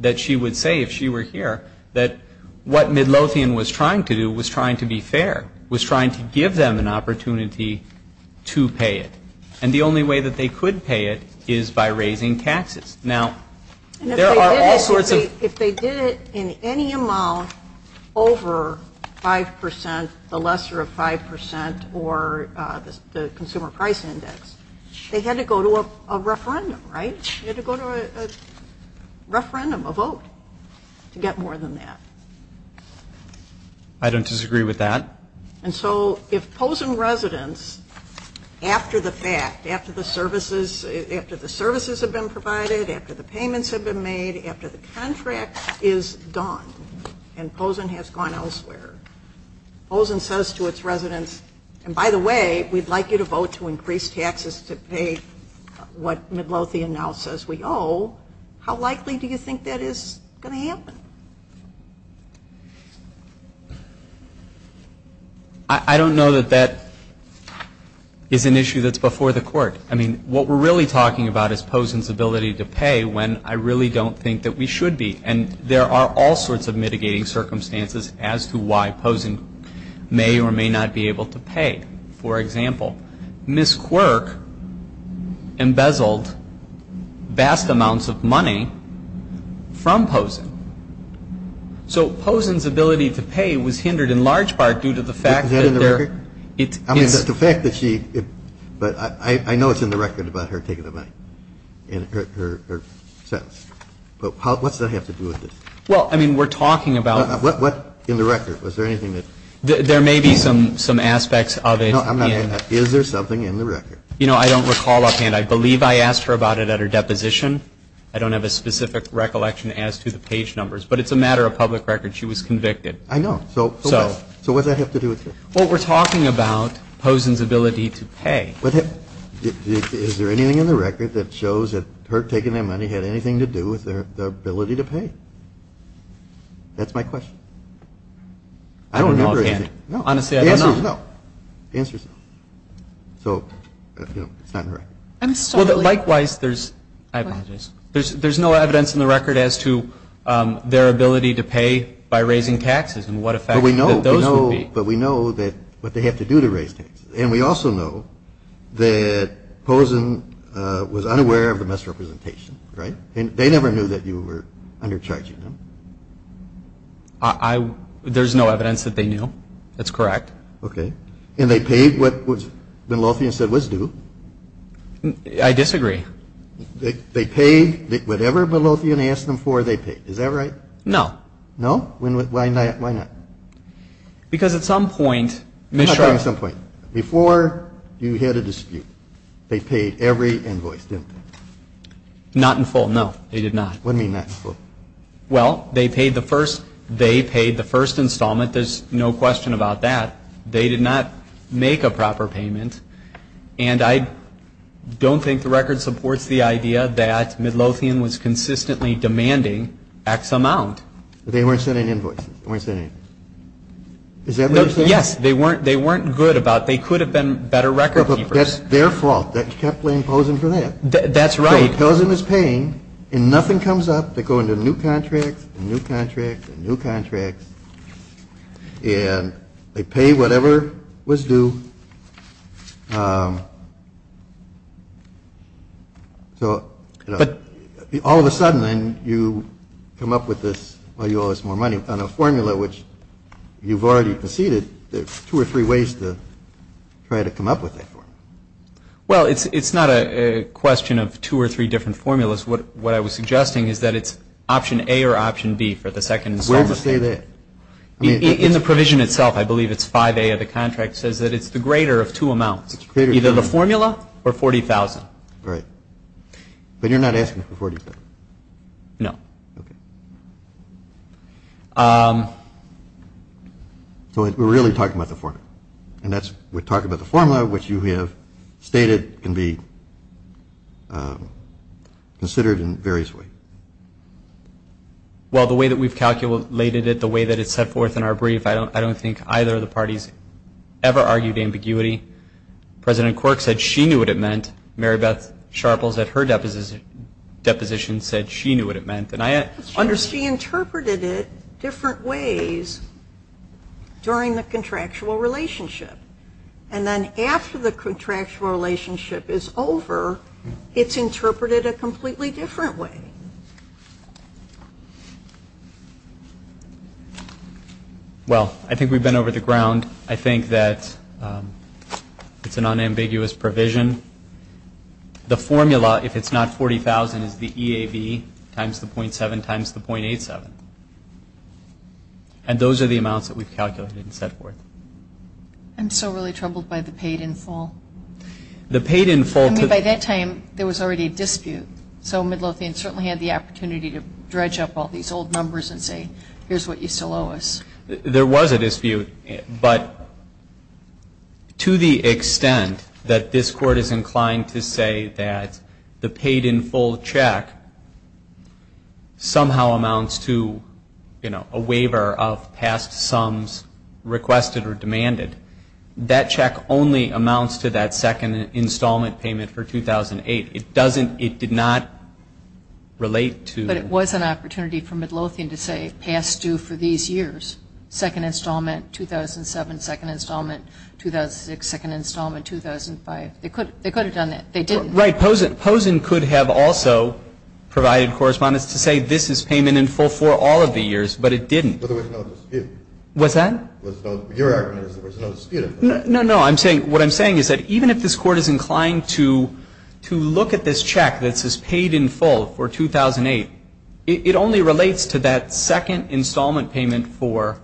that she would say, if she were here, that what Midlothian was trying to do was trying to be fair, was trying to give them an opportunity to pay it. And the only way that they could pay it is by raising taxes. Now, there are also the- If they did it in any amount over 5%, the lesser of 5% or the consumer price index, they had to go to a referendum, right? They had to go to a referendum, a vote, to get more than that. I don't disagree with that. And so if Pozen residents, after the fact, after the services have been provided, after the payments have been made, after the contract is gone, and Pozen has gone elsewhere, Pozen says to its residents, and by the way, we'd like you to vote to increase taxes to pay what Midlothian now says we owe. How likely do you think that is going to happen? I don't know that that is an issue that's before the court. I mean, what we're really talking about is Pozen's ability to pay when I really don't think that we should be. And there are all sorts of mitigating circumstances as to why Pozen may or may not be able to pay. For example, Ms. Quirk embezzled vast amounts of money from Pozen. So Pozen's ability to pay was hindered in large part due to the fact that there- I mean, just the fact that she, but I know it's in the record about her taking the money, in her settlement. But what does that have to do with this? Well, I mean, we're talking about- What in the record? Was there anything that- There may be some aspects of it. No, I'm not going to ask. Is there something in the record? You know, I don't recall offhand. I believe I asked her about it at her deposition. I don't have a specific recollection as to the page numbers. But it's a matter of public record. She was convicted. I know. So what does that have to do with this? Well, we're talking about Pozen's ability to pay. But is there anything in the record that shows that her taking that money had anything to do with her ability to pay? That's my question. I don't remember anything. Offhand. Honestly, I don't know. The answer is no. The answer is no. So, you know, it's not in the record. Well, but likewise, there's- I apologize. There's no evidence in the record as to their ability to pay by raising taxes and what effect those would be. Well, but we know what they have to do to raise taxes. And we also know that Pozen was unaware of the misrepresentation, right? They never knew that you were under charging them. There's no evidence that they knew. That's correct. Okay. And they paid what Binlothian said was due. I disagree. They paid whatever Binlothian asked them for, they paid. Is that right? No. No? Why not? Because at some point- At some point. Before you had a dispute, they paid every invoice due. Not in full, no. They did not. What do you mean not in full? Well, they paid the first installment. There's no question about that. They did not make a proper payment. And I don't think the record supports the idea that Binlothian was consistently demanding X amount. But they weren't sending invoices. They weren't sending- Is that what you're saying? Yes. They weren't good about- They could have been better record keepers. But that's their fault. That's simply Pozen's fault. That's right. He tells them he's paying, and nothing comes up. They go into new contracts, and new contracts, and new contracts. And they pay whatever was due. So, all of a sudden, then, you come up with this, well, you owe us more money on a formula which you've already proceeded. There's two or three ways to try to come up with that formula. Well, it's not a question of two or three different formulas. What I was suggesting is that it's option A or option B for the second installment. Where does it say that? In the provision itself, I believe it's 5A of the contract. It says that it's the greater of two amounts, either the formula or $40,000. Right. But you're not asking for $40,000? No. So, we're really talking about the formula. And that's- We're talking about the formula, which you have stated can be considered in various ways. Well, the way that we've calculated it, the way that it's set forth in our brief, I don't think either of the parties ever argued ambiguity. President Quirk said she knew what it meant. Mary Beth Sharples, at her deposition, said she knew what it meant. She interpreted it different ways during the contractual relationship. And then after the contractual relationship is over, it's interpreted a completely different way. Well, I think we've been over the ground. I think that it's an unambiguous provision. The formula, if it's not $40,000, is the EAB times the .7 times the .87. And those are the amounts that we've calculated and set forth. I'm so really troubled by the paid-in-full. The paid-in-full- I mean, by that time, there was already a dispute. So, mid-wealthy and certainly had the opportunity to dredge up all these old numbers and say, here's what you still owe us. There was a dispute. But to the extent that this Court is inclined to say that the paid-in-full check somehow amounts to, you know, a waiver of past sums requested or demanded, that check only amounts to that second installment payment for 2008. It doesn't – it did not relate to – Second installment, 2007. Second installment, 2006. Second installment, 2005. They could have done that. They didn't. Right. Pozen could have also provided correspondence to say this is payment in full for all of the years, but it didn't. But there was no dispute. What's that? There was no – your argument is there was no dispute. No, no. I'm saying – what I'm saying is that even if this Court is inclined to look at this check that says paid-in-full for 2008, it only relates to that second installment payment for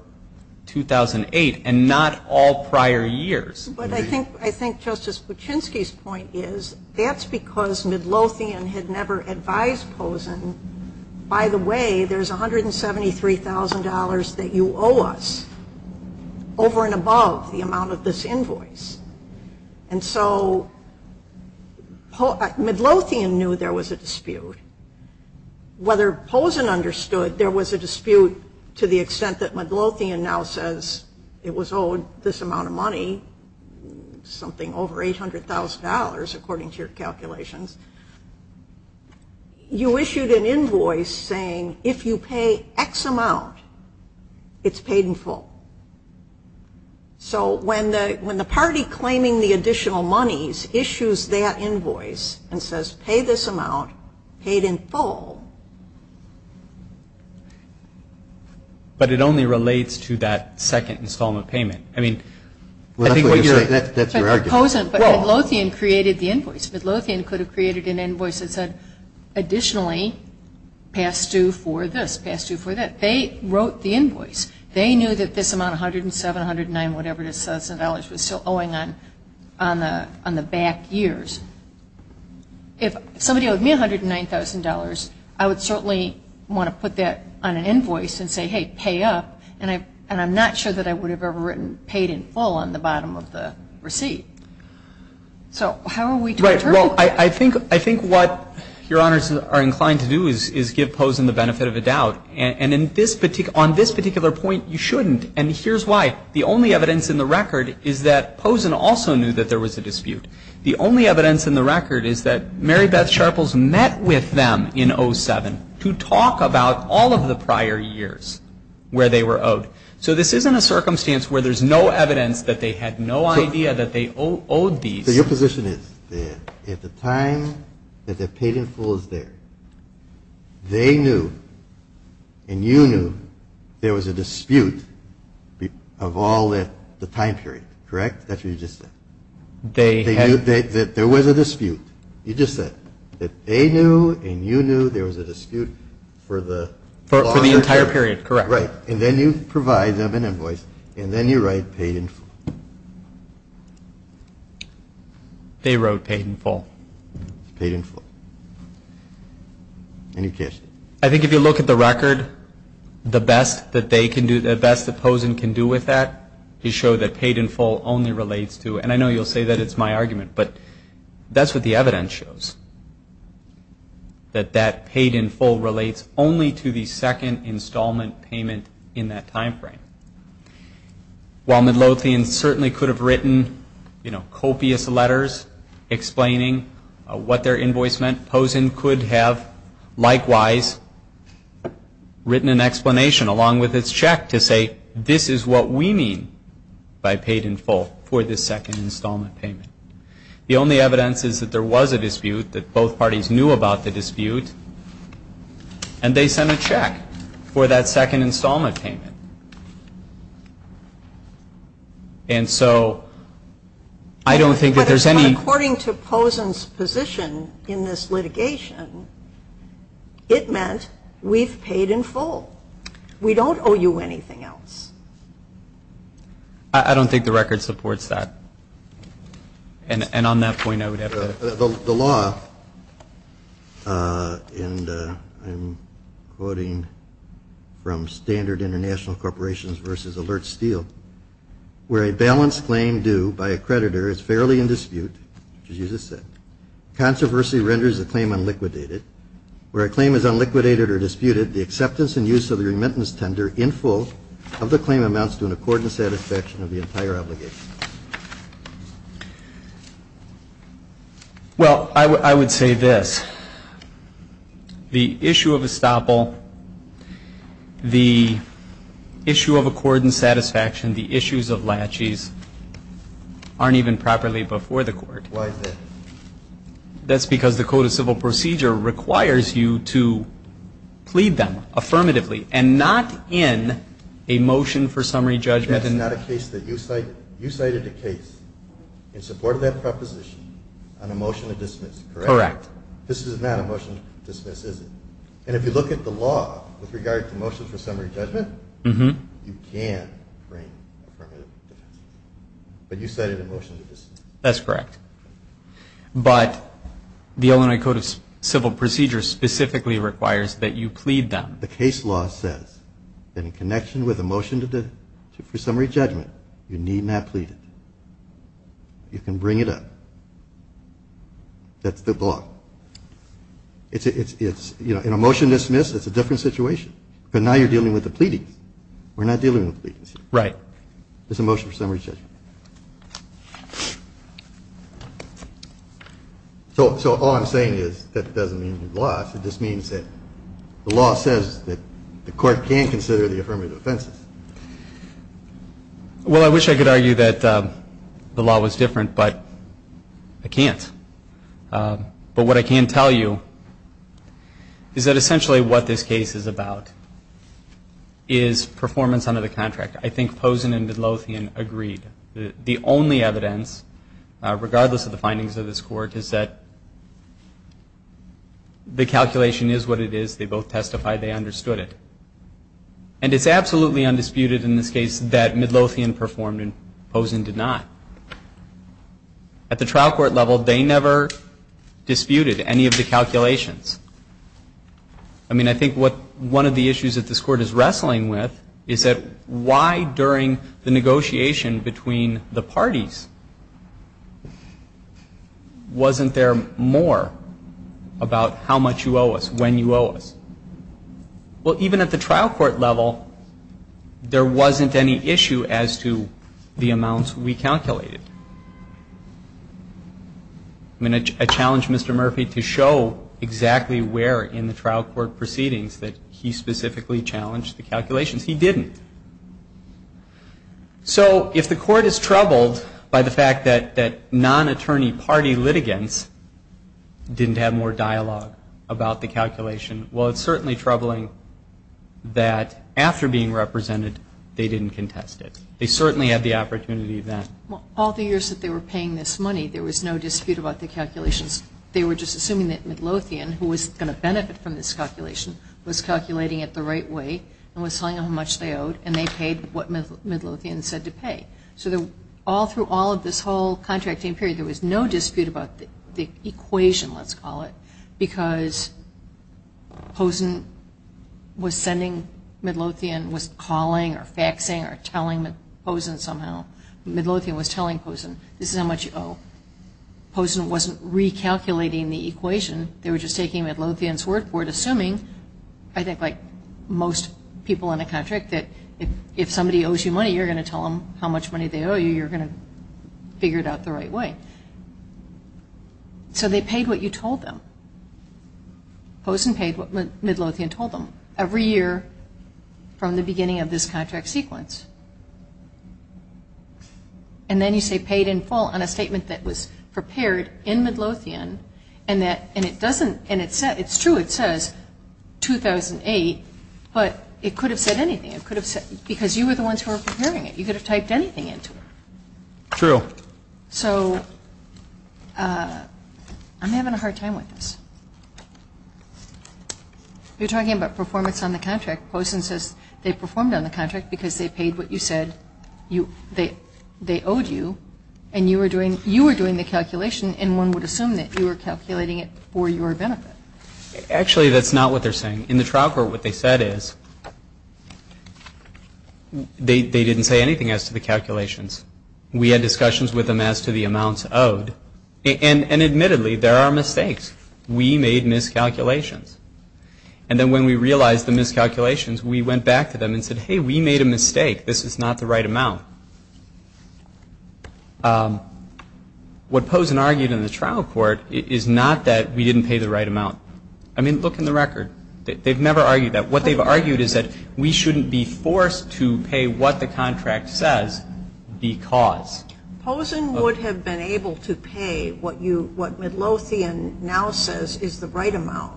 2008 and not all prior years. But I think Justice Kuczynski's point is that's because Midlothian had never advised Pozen, by the way, there's $173,000 that you owe us over and above the amount of this invoice. And so Midlothian knew there was a dispute. Whether Pozen understood, there was a dispute to the extent that Midlothian now says it was owed this amount of money, something over $800,000 according to your calculations. You issued an invoice saying if you pay X amount, it's paid in full. So when the party claiming the additional monies issues their invoice and says pay this amount, paid in full. But it only relates to that second installment payment. I mean, I think – That's your argument. But Pozen – but Midlothian created the invoice. Midlothian could have created an invoice that said additionally pass due for this, pass due for that. They wrote the invoice. They knew that this amount, $107,000, $109,000, whatever it is, was still owing on the back years. If somebody owed me $109,000, I would certainly want to put that on an invoice and say, hey, pay up. And I'm not sure that I would have ever written paid in full on the bottom of the receipt. So how are we to – Right. Well, I think what your honors are inclined to do is give Pozen the benefit of the doubt. And on this particular point, you shouldn't. And here's why. The only evidence in the record is that Pozen also knew that there was a dispute. The only evidence in the record is that Mary Beth Sharples met with them in 07 to talk about all of the prior years where they were owed. So this isn't a circumstance where there's no evidence that they had no idea that they owed the – So your position is that at the time that the paid in full is there, they knew and you knew there was a dispute of all the time period, correct? That's what you just said. They had – There was a dispute. You just said that they knew and you knew there was a dispute for the – For the entire period, correct. Right. And then you provide them an invoice and then you write paid in full. They wrote paid in full. Paid in full. Any questions? I think if you look at the record, the best that they can do – the best that Pozen can do with that is show that paid in full only relates to – While Midlothian certainly could have written, you know, copious letters explaining what their invoice meant, Pozen could have likewise written an explanation along with his check to say this is what we mean by paid in full for the second installment payment. The only evidence is that there was a dispute, that both parties knew about the dispute, and they sent a check for that second installment payment. And so I don't think that there's any – According to Pozen's position in this litigation, it meant we've paid in full. We don't owe you anything else. I don't think the record supports that. And on that point, I would add – The law, and I'm quoting from Standard International Corporations v. Alert Steel, where a balanced claim due by a creditor is fairly in dispute, Jesus said, controversy renders the claim unliquidated. Where a claim is unliquidated or disputed, the acceptance and use of the remittance tender in full of the claim amounts to an accorded satisfaction of the entire obligation. Well, I would say this. The issue of estoppel, the issue of accorded satisfaction, the issues of laches, aren't even properly before the court. Why is that? That's because the Code of Civil Procedure requires you to plead them affirmatively and not in a motion for summary judgment. You cited a case in support of that proposition on a motion to dismiss, correct? Correct. This is not a motion to dismiss, is it? And if you look at the law with regard to motion for summary judgment, you can frame it. But you cited a motion to dismiss. That's correct. But the Illinois Code of Civil Procedure specifically requires that you plead them. And as the case law says, in connection with a motion for summary judgment, you need not plead them. You can bring it up. That's the law. In a motion to dismiss, it's a different situation. But now you're dealing with a pleading. We're not dealing with pleadings. Right. It's a motion for summary judgment. So all I'm saying is that it doesn't mean you lost. It just means that the law says that the court can't consider the affirmative offenses. Well, I wish I could argue that the law was different, but I can't. But what I can tell you is that essentially what this case is about is performance under the contract. I think Pozen and Midlothian agreed that the only evidence, regardless of the findings of this court, is that the calculation is what it is. They both testified they understood it. And it's absolutely undisputed in this case that Midlothian performed and Pozen did not. At the trial court level, they never disputed any of the calculations. I mean, I think what one of the issues that this court is wrestling with is that why during the negotiation between the parties wasn't there more about how much you owe us, when you owe us? Well, even at the trial court level, there wasn't any issue as to the amounts we calculated. I mean, I challenge Mr. Murphy to show exactly where in the trial court proceedings that he specifically challenged the calculations. He didn't. So if the court is troubled by the fact that non-attorney party litigants didn't have more dialogue about the calculation, well, it's certainly troubling that after being represented, they didn't contest it. They certainly had the opportunity then. Well, all the years that they were paying this money, there was no dispute about the calculations. They were just assuming that Midlothian, who was going to benefit from this calculation, was calculating it the right way and was telling them how much they owed, and they paid what Midlothian said to pay. So all through all of this whole contracting period, there was no dispute about the equation, let's call it, because Midlothian was telling Pozen, this is how much you owe. Pozen wasn't recalculating the equation. They were just taking Midlothian's word for it, assuming, I think like most people in a contract, that if somebody owes you money, you're going to tell them how much money they owe you. You're going to figure it out the right way. So they paid what you told them. Pozen paid what Midlothian told them every year from the beginning of this contract sequence. And then you say paid in full on a statement that was prepared in Midlothian, and it's true, it says 2008, but it could have said anything. It could have said, because you were the ones who were preparing it. You could have typed anything into it. True. So I'm having a hard time with this. You're talking about performance on the contract. Pozen says they performed on the contract because they paid what you said they owed you, and you were doing the calculation, and one would assume that you were calculating it for your benefit. Actually, that's not what they're saying. In the trial court, what they said is they didn't say anything as to the calculations. We had discussions with them as to the amounts owed. And admittedly, there are mistakes. We made miscalculations. And then when we realized the miscalculations, we went back to them and said, hey, we made a mistake. This is not the right amount. What Pozen argued in the trial court is not that we didn't pay the right amount. I mean, look in the record. They've never argued that. What they've argued is that we shouldn't be forced to pay what the contract says because. Pozen would have been able to pay what Midlothian now says is the right amount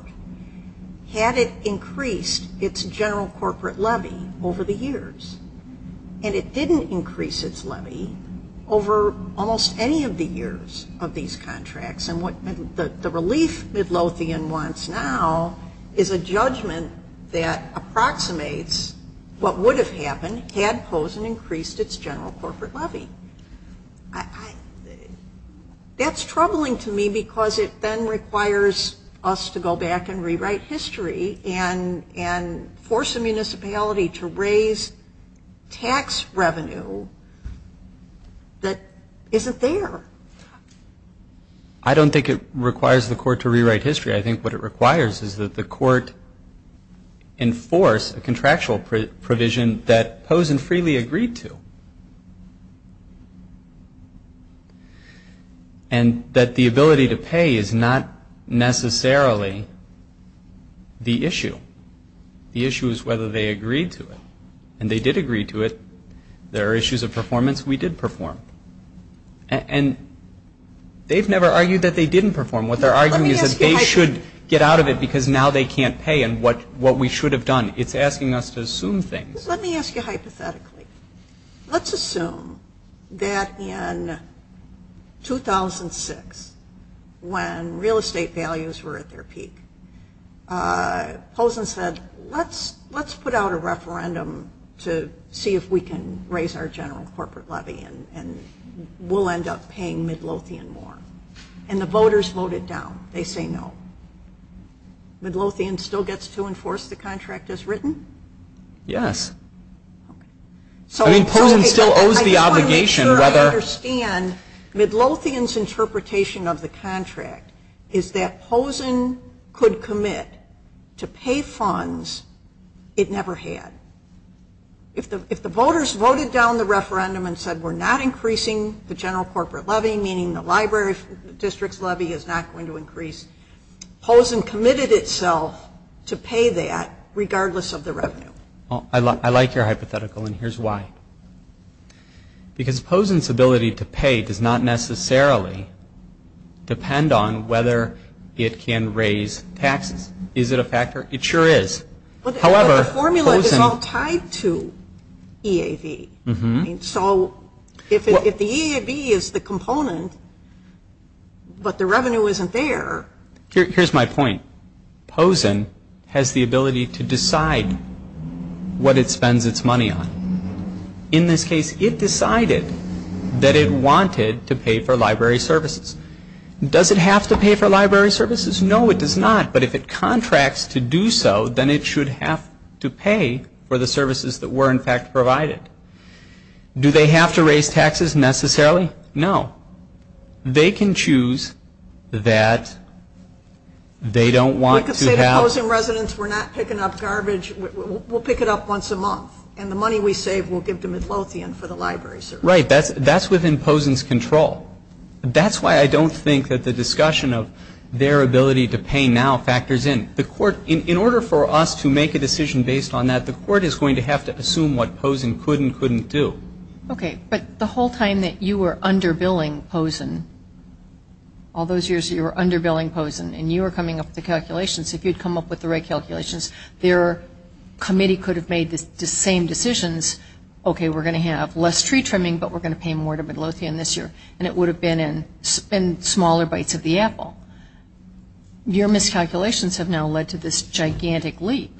had it increased its general corporate levy over the years. And it didn't increase its levy over almost any of the years of these contracts. And the relief Midlothian wants now is a judgment that approximates what would have happened had Pozen increased its general corporate levy. That's troubling to me because it then requires us to go back and rewrite history and force a municipality to raise tax revenue that isn't there. I don't think it requires the court to rewrite history. I think what it requires is that the court enforce a contractual provision that Pozen freely agreed to. And that the ability to pay is not necessarily the issue. The issue is whether they agreed to it. And they did agree to it. There are issues of performance. We did perform. And they've never argued that they didn't perform. What they're arguing is that they should get out of it because now they can't pay. And what we should have done. It's asking us to assume things. Let me ask you hypothetically. Let's assume that in 2006 when real estate values were at their peak, Pozen said let's put out a referendum to see if we can raise our general corporate levy and we'll end up paying Midlothian more. And the voters voted down. They say no. Midlothian still gets to enforce the contract as written? Yes. I mean Pozen still owes the obligation. I'm not sure I understand Midlothian's interpretation of the contract is that Pozen could commit to pay funds it never had. If the voters voted down the referendum and said we're not increasing the general corporate levy, meaning the library district's levy is not going to increase, Pozen committed itself to pay that regardless of the revenue. I like your hypothetical and here's why. Because Pozen's ability to pay does not necessarily depend on whether it can raise taxes. Is it a factor? It sure is. The formula is all tied to EAD. So if the EAD is the component but the revenue isn't there. Here's my point. Pozen has the ability to decide what it spends its money on. In this case it decided that it wanted to pay for library services. Does it have to pay for library services? No, it does not. But if it contracts to do so, then it should have to pay for the services that were, in fact, provided. Do they have to raise taxes necessarily? No. They can choose that they don't want to have. We can say to Pozen residents we're not picking up garbage, we'll pick it up once a month and the money we save we'll give to Midlothian for the library services. Right. That's within Pozen's control. That's why I don't think that the discussion of their ability to pay now factors in. In order for us to make a decision based on that, the court is going to have to assume what Pozen could and couldn't do. Okay. But the whole time that you were underbilling Pozen, all those years you were underbilling Pozen and you were coming up with the calculations, if you'd come up with the right calculations, their committee could have made the same decisions. Your miscalculations have now led to this gigantic leap.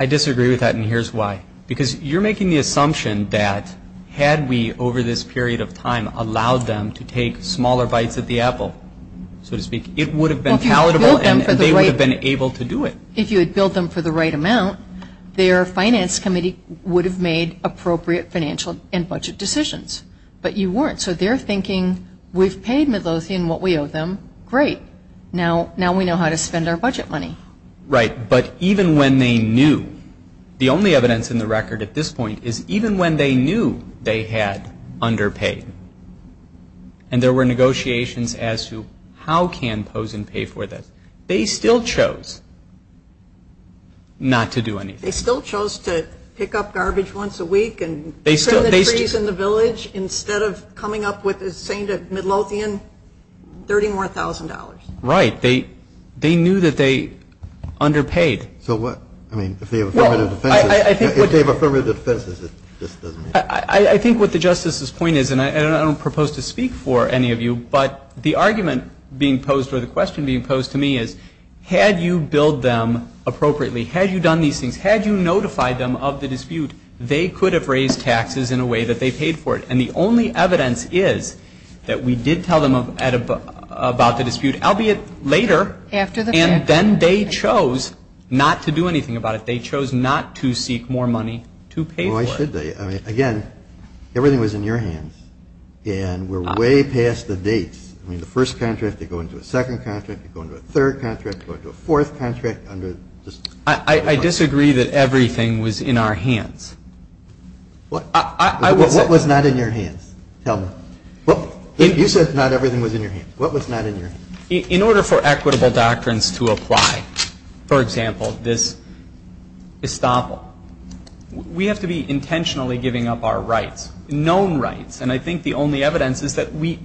I disagree with that and here's why. Because you're making the assumption that had we, over this period of time, allowed them to take smaller bites at the apple, so to speak, it would have been palatable and they would have been able to do it. If you had billed them for the right amount, they are going to be able to do it. Your finance committee would have made appropriate financial and budget decisions. But you weren't. So they're thinking, we've paid Midlothian what we owe them, great. Now we know how to spend our budget money. Right. But even when they knew, the only evidence in the record at this point is even when they knew they had underpaid and there were negotiations as to how can Pozen pay for that, they still chose not to do anything. They still chose to pick up garbage once a week and turn the trees in the village instead of coming up with saying that Midlothian, 30 more thousand dollars. Right. They knew that they underpaid. So what, I mean, if they have affirmative defenses, this doesn't make sense. I think what the Justice's point is, and I don't propose to speak for any of you, but the argument being posed or the question being posed to me is, had you billed them appropriately, had you done these things, had you notified them of the dispute, they could have raised taxes in a way that they paid for it. And the only evidence is that we did tell them about the dispute, albeit later, and then they chose not to do anything about it. They chose not to seek more money to pay for it. Why should they? Again, everything was in your hands. And we're way past the dates. I mean, the first contract, they go into a second contract, they go into a third contract, they go into a fourth contract under the dispute. I disagree that everything was in our hands. What was not in your hands? Tell me. You said not everything was in your hands. What was not in your hands? In order for equitable doctrines to apply, for example, this disposal, we have to be intentionally giving up our rights, known rights. And I think the only evidence is that we,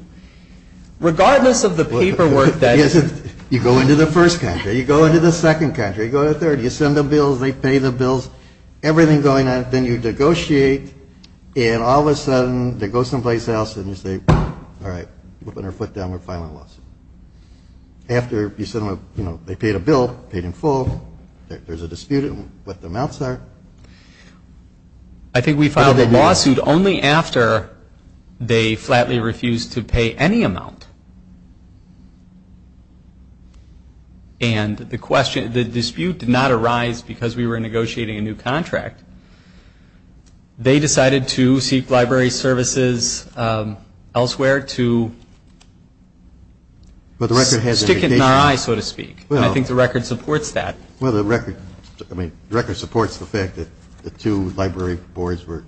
regardless of the paperwork that is... You go into the first contract, you go into the second contract, you go into the third, you send them bills, they pay the bills, everything's going on. Then you negotiate, and all of a sudden, they go someplace else, and you say, all right, we'll put our foot down, we're filing a lawsuit. After you send them a, you know, they paid a bill, paid in full, there's a dispute, what the amounts are. I think we filed a lawsuit only after they flatly refused to pay any amount. And the dispute did not arise because we were negotiating a new contract. They decided to seek library services elsewhere to stick it in our eyes, so to speak. I think the record supports that. Well, the record supports the fact that the two library boards were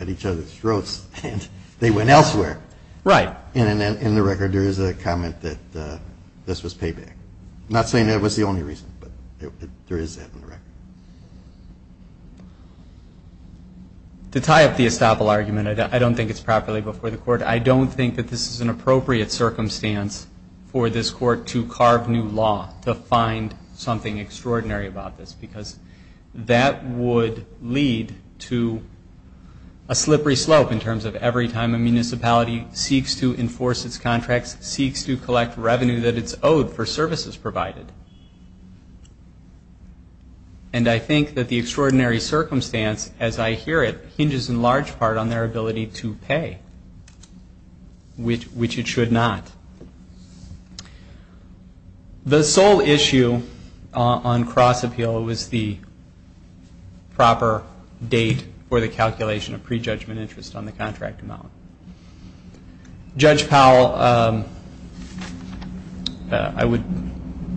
at each other's throats, and they went elsewhere. Right. And in the record, there is a comment that this was payback. I'm not saying that was the only reason, but there is that in the record. To tie up the estoppel argument, I don't think it's properly before the court. I don't think that this is an appropriate circumstance for this court to carve new law, to find something extraordinary about this, because that would lead to a slippery slope in terms of every time a municipality seeks to enforce its contracts, seeks to collect revenue that it's owed for services provided. And I think that the extraordinary circumstance, as I hear it, hinges in large part on their ability to pay, which it should not. The sole issue on cross-appeal was the proper date for the calculation of prejudgment interest on the contract amount. Judge Powell, I would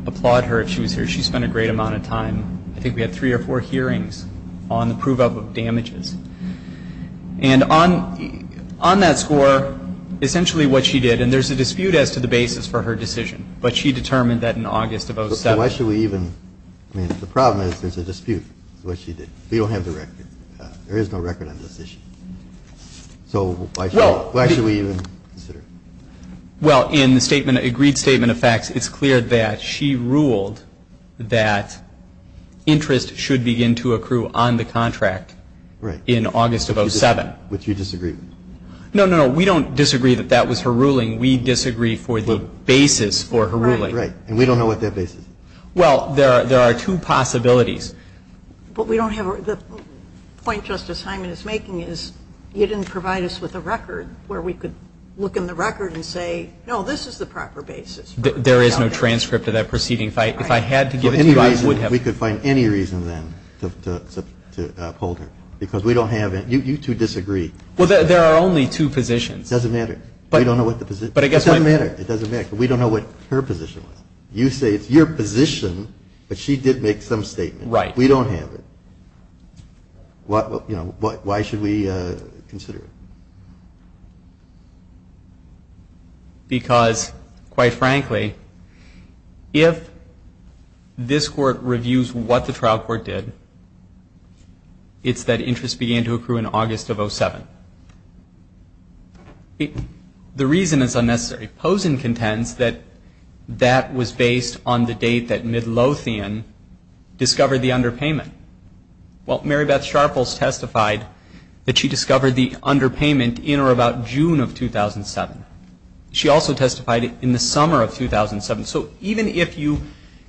applaud her. She spent a great amount of time. I think we had three or four hearings on the prove-up of damages. And on that score, essentially what she did, and there's a dispute as to the basis for her decision, but she determined that in August of 07. So why should we even, I mean, the problem is there's a dispute with what she did. We don't have the record. There is no record on this issue. So why should we even consider it? Well, in the agreed statement of facts, it's clear that she ruled that interest should begin to accrue on the contract. Right. In August of 07. But you disagree. No, no. We don't disagree that that was her ruling. We disagree for the basis for her ruling. Right, right. And we don't know what that basis is. Well, there are two possibilities. But we don't have, the point Justice Hyman is making is you didn't provide us with a record where we could look in the record and say, no, this is the proper basis. There is no transcript of that proceeding. If I had to give it to you, I would have. We could find any reason then to uphold her. Because we don't have it. You two disagree. Well, there are only two positions. It doesn't matter. We don't know what the position is. It doesn't matter. It doesn't matter. We don't know what her position is. You say it's your position, but she did make some statement. Right. We don't have it. Why should we consider it? Because, quite frankly, if this court reviews what the trial court did, it's that interest began to accrue in August of 07. The reason is unnecessary. Pozen contends that that was based on the date that Midlothian discovered the underpayment. Well, Mary Beth Sharples testified that she discovered the underpayment in or about June of 2007. She also testified in the summer of 2007. So even if you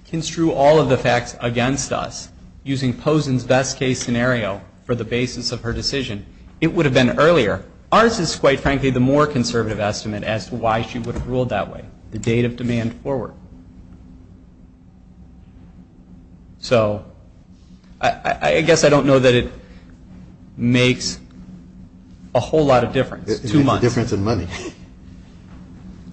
construe all of the facts against us using Pozen's best case scenario for the basis of her decision, it would have been earlier. Ours is, quite frankly, the more conservative estimate as to why she would have ruled that way, the date of demand forward. So I guess I don't know that it makes a whole lot of difference. It makes a difference in money.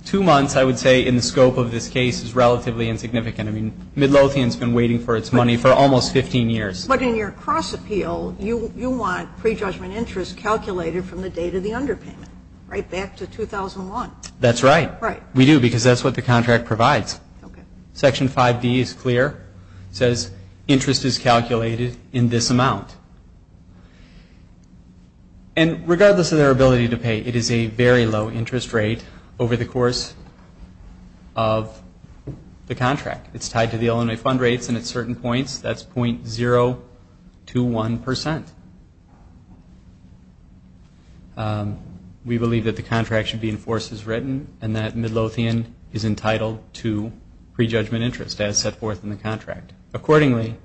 Two months, I would say, in the scope of this case is relatively insignificant. I mean, Midlothian's been waiting for its money for almost 15 years. But in your cross appeal, you want prejudgment interest calculated from the date of the underpayment, right back to 2001. That's right. Right. We do, because that's what the contract provides. Section 5B is clear. It says interest is calculated in this amount. And regardless of their ability to pay, it is a very low interest rate over the course of the contract. It's tied to the L&A fund rates, and at certain points, that's .021%. We believe that the contract should be enforced as written and that Midlothian is entitled to prejudgment interest as set forth in the contract. Accordingly,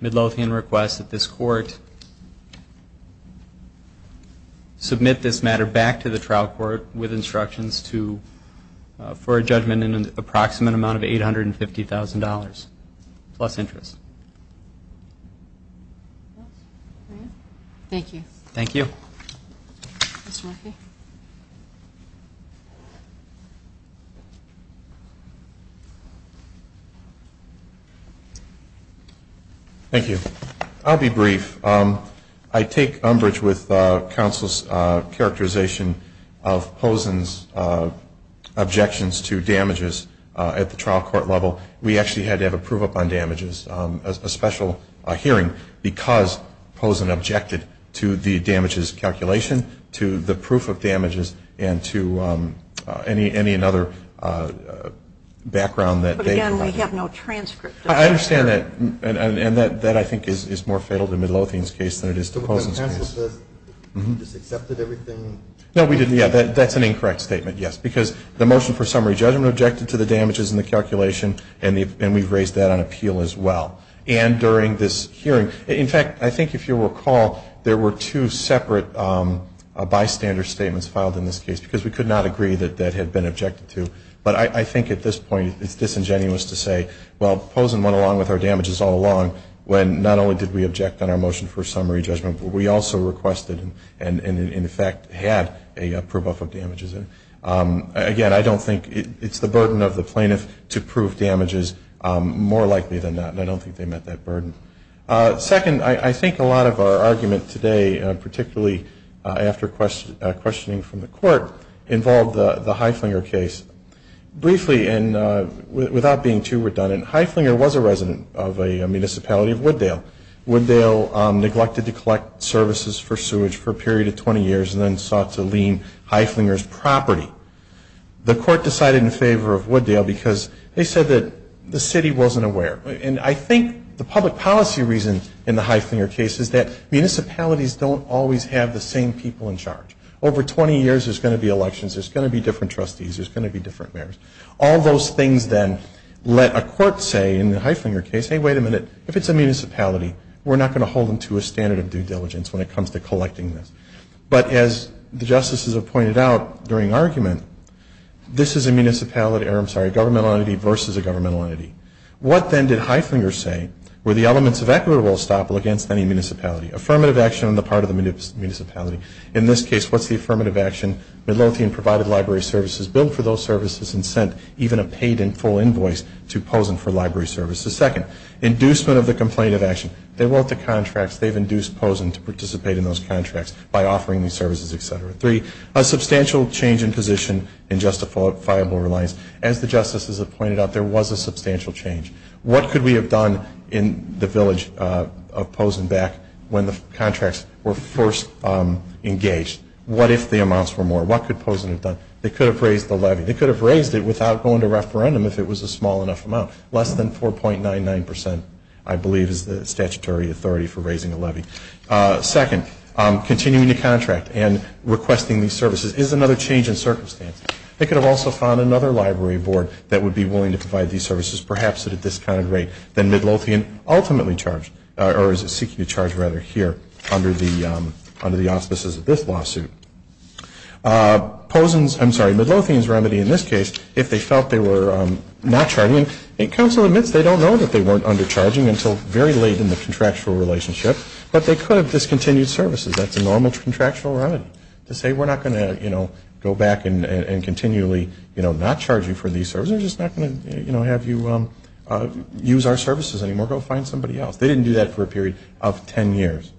Midlothian requests that this court submit this matter back to the trial court with instructions for a judgment in an approximate amount of $850,000 plus interest. Thank you. Thank you. Mr. Murphy? Thank you. I'll be brief. I take umbrage with counsel's characterization of Pozen's objections to damages at the trial court level. We actually had to have a proof-up on damages, a special hearing, because Pozen objected to the damages calculation, to the proof of damages, and to any other background that they have. But again, they have no transcripts. I understand that, and that, I think, is more fatal to Midlothian's case than it is to Pozen's case. But counsel said he just accepted everything. No, we didn't. Yeah, that's an incorrect statement, yes, because the motion for summary judgment objected to the damages and the calculation, and we've raised that on appeal as well. And during this hearing, in fact, I think if you recall, there were two separate bystander statements filed in this case because we could not agree that that had been objected to. But I think at this point it's disingenuous to say, well, Pozen went along with our damages all along when not only did we object on our motion for summary judgment, we also requested and, in effect, had a proof of damages. Again, I don't think it's the burden of the plaintiff to prove damages more likely than that, and I don't think they met that burden. Second, I think a lot of our argument today, particularly after questioning from the court, involved the Heiflinger case. Briefly, and without being too redundant, Heiflinger was a resident of a municipality of Wooddale. Wooddale neglected to collect services for sewage for a period of 20 years and then sought to lien Heiflinger's property. The court decided in favor of Wooddale because they said that the city wasn't aware. And I think the public policy reason in the Heiflinger case is that municipalities don't always have the same people in charge. Over 20 years, there's going to be elections. There's going to be different trustees. There's going to be different mayors. All those things then let a court say in the Heiflinger case, hey, wait a minute, if it's a municipality, we're not going to hold them to a standard of due diligence when it comes to collecting them. But as the justices have pointed out during argument, this is a government entity versus a governmental entity. What then did Heiflinger say were the elements of equitable estoppel against any municipality? Affirmative action on the part of the municipality. In this case, what's the affirmative action? Midlothian provided library services, billed for those services, and sent even a paid-in full invoice to Pozen for library services. Second, inducement of the complaint of action. They want the contracts. They've induced Pozen to participate in those contracts by offering these services, et cetera. Three, a substantial change in position in justifiable reliance. As the justices have pointed out, there was a substantial change. What could we have done in the village of Pozen back when the contracts were first engaged? What if the amounts were more? What could Pozen have done? They could have raised the levy. They could have raised it without going to referendum if it was a small enough amount. Less than 4.99 percent, I believe, is the statutory authority for raising the levy. Second, continuing the contract and requesting these services is another change in circumstance. They could have also found another library board that would be willing to provide these services, perhaps at a discounted rate than Midlothian ultimately charged, or is seeking to charge rather here under the auspices of this lawsuit. Midlothian's remedy in this case, if they felt they were not charging, counsel admits they don't know that they weren't undercharging until very late in the contractual relationship, but they could have discontinued services. That's a normal contractual remedy. To say we're not going to go back and continually not charge you for these services is not going to have you use our services anymore. Go find somebody else. They didn't do that for a period of 10 years.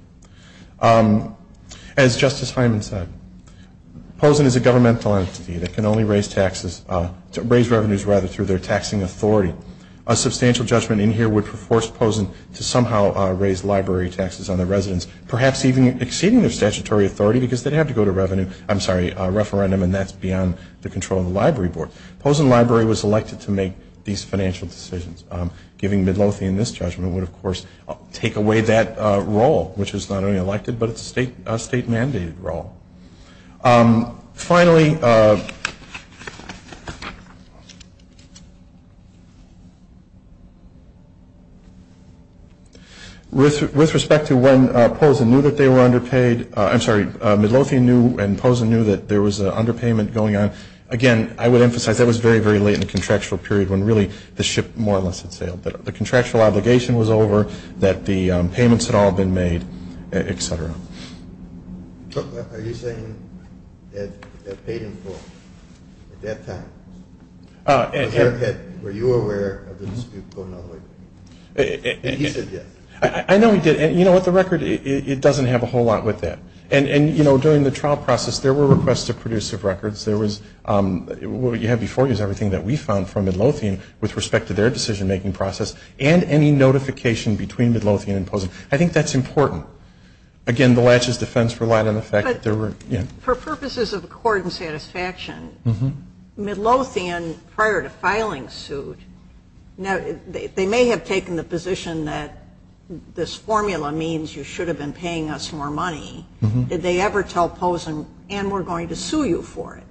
As Justice Hyman said, POSEN is a government philanthropy. They can only raise revenues rather through their taxing authority. A substantial judgment in here would force POSEN to somehow raise library taxes on their residents, perhaps even exceeding their statutory authority because they'd have to go to referendum, and that's beyond the control of the library board. POSEN Library was elected to make these financial decisions. Giving Midlothian this judgment would, of course, take away that role, which is not only elected, but it's a state-mandated role. Finally, with respect to when POSEN knew that they were underpaid, I'm sorry, Midlothian knew and POSEN knew that there was an underpayment going on, again, I would emphasize that was very, very late in the contractual period when really the ship more or less had sailed. But the contractual obligation was over, that the payments had all been made, et cetera. Are you saying that they paid them for it at that time? Were you aware of this? And he said yes. I know he did. You know what, the record, it doesn't have a whole lot with that. During the trial process, there were requests to produce records. What you have before you is everything that we found from Midlothian with respect to their decision-making process and any notification between Midlothian and POSEN. I think that's important. Again, the latches defense relied on the fact that there were... For purposes of accord and satisfaction, Midlothian, prior to filing suit, they may have taken the position that this formula means you should have been paying us more money. Did they ever tell POSEN, Ann, we're going to sue you for it?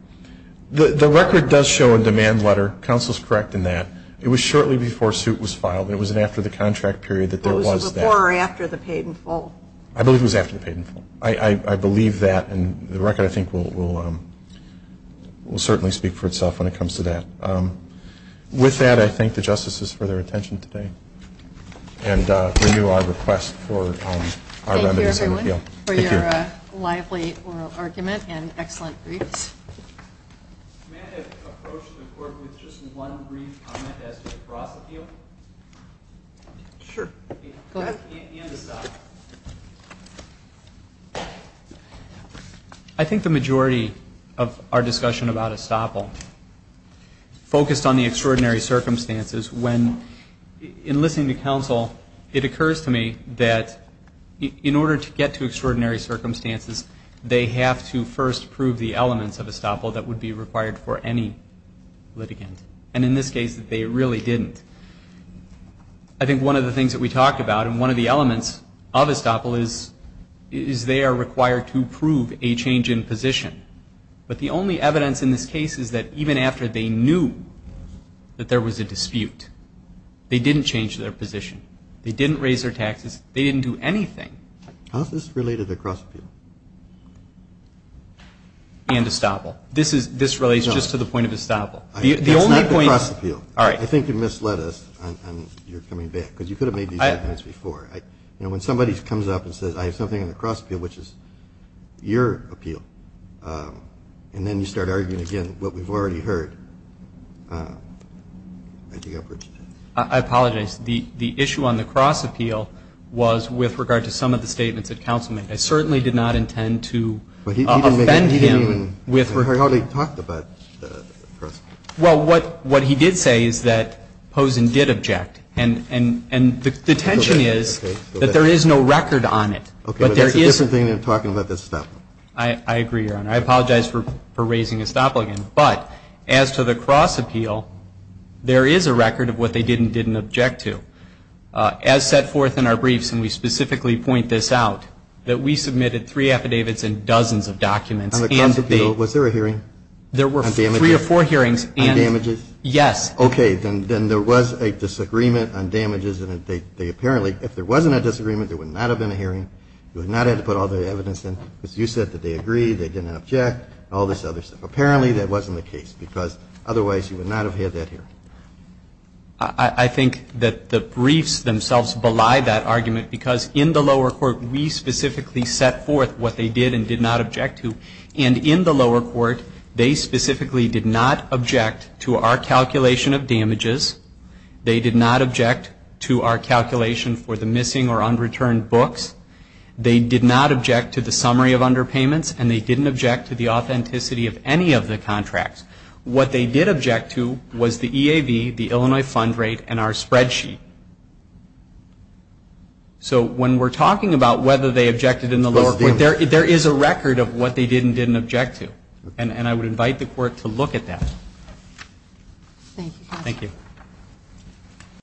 The record does show a demand letter. Counsel is correct in that. It was shortly before suit was filed. It was after the contract period that there was that. Was it before or after the paid-in full? I believe it was after the paid-in full. I believe that, and the record, I think, will certainly speak for itself when it comes to that. With that, I thank the justices for their attention today. And renew our request for our lenders in the field. Thank you, Edwin, for your lively oral argument and excellent brief. May I approach the court with just one brief comment as to the profit field? Sure, go ahead. I think the majority of our discussion about ESOPL focused on the extraordinary circumstances when, in listening to counsel, it occurs to me that in order to get to extraordinary circumstances, they have to first prove the elements of ESOPL that would be required for any litigant. And in this case, they really didn't. I think one of the things that we talked about, and one of the elements of ESOPL, is they are required to prove a change in position. But the only evidence in this case is that even after they knew that there was a dispute, they didn't change their position. They didn't raise their taxes. They didn't do anything. How is this related to cross-appeal? And ESOPL. This relates just to the point of ESOPL. Not the cross-appeal. I think you misled us on your coming back, because you could have made these comments before. When somebody comes up and says, I have something on the cross-appeal, which is your appeal, and then you start arguing again what we've already heard. I apologize. The issue on the cross-appeal was with regard to some of the statements that counsel made. I certainly did not intend to offend him. We've already talked about cross-appeal. Well, what he did say is that Pozen did object. And the tension is that there is no record on it. Okay. But there is something in talking about this stuff. I agree, Your Honor. I apologize for raising ESOPL again. But as to the cross-appeal, there is a record of what they did and didn't object to. As set forth in our briefs, and we specifically point this out, that we submitted three affidavits and dozens of documents. On the cross-appeal, was there a hearing? There were three or four hearings. On damages? Yes. Okay. Then there was a disagreement on damages. Apparently, if there wasn't a disagreement, there would not have been a hearing. You would not have had to put all the evidence in. You said that they agreed, they didn't object, all this other stuff. Apparently, that wasn't the case because otherwise you would not have had that hearing. I think that the briefs themselves belie that argument because in the lower court, we specifically set forth what they did and did not object to. And in the lower court, they specifically did not object to our calculation of damages. They did not object to our calculation for the missing or unreturned books. They did not object to the summary of underpayments. And they didn't object to the authenticity of any of the contracts. What they did object to was the EAB, the Illinois Fund Rate, and our spreadsheet. So when we're talking about whether they objected in the lower court, there is a record of what they did and didn't object to. And I would invite the court to look at that. Thank you.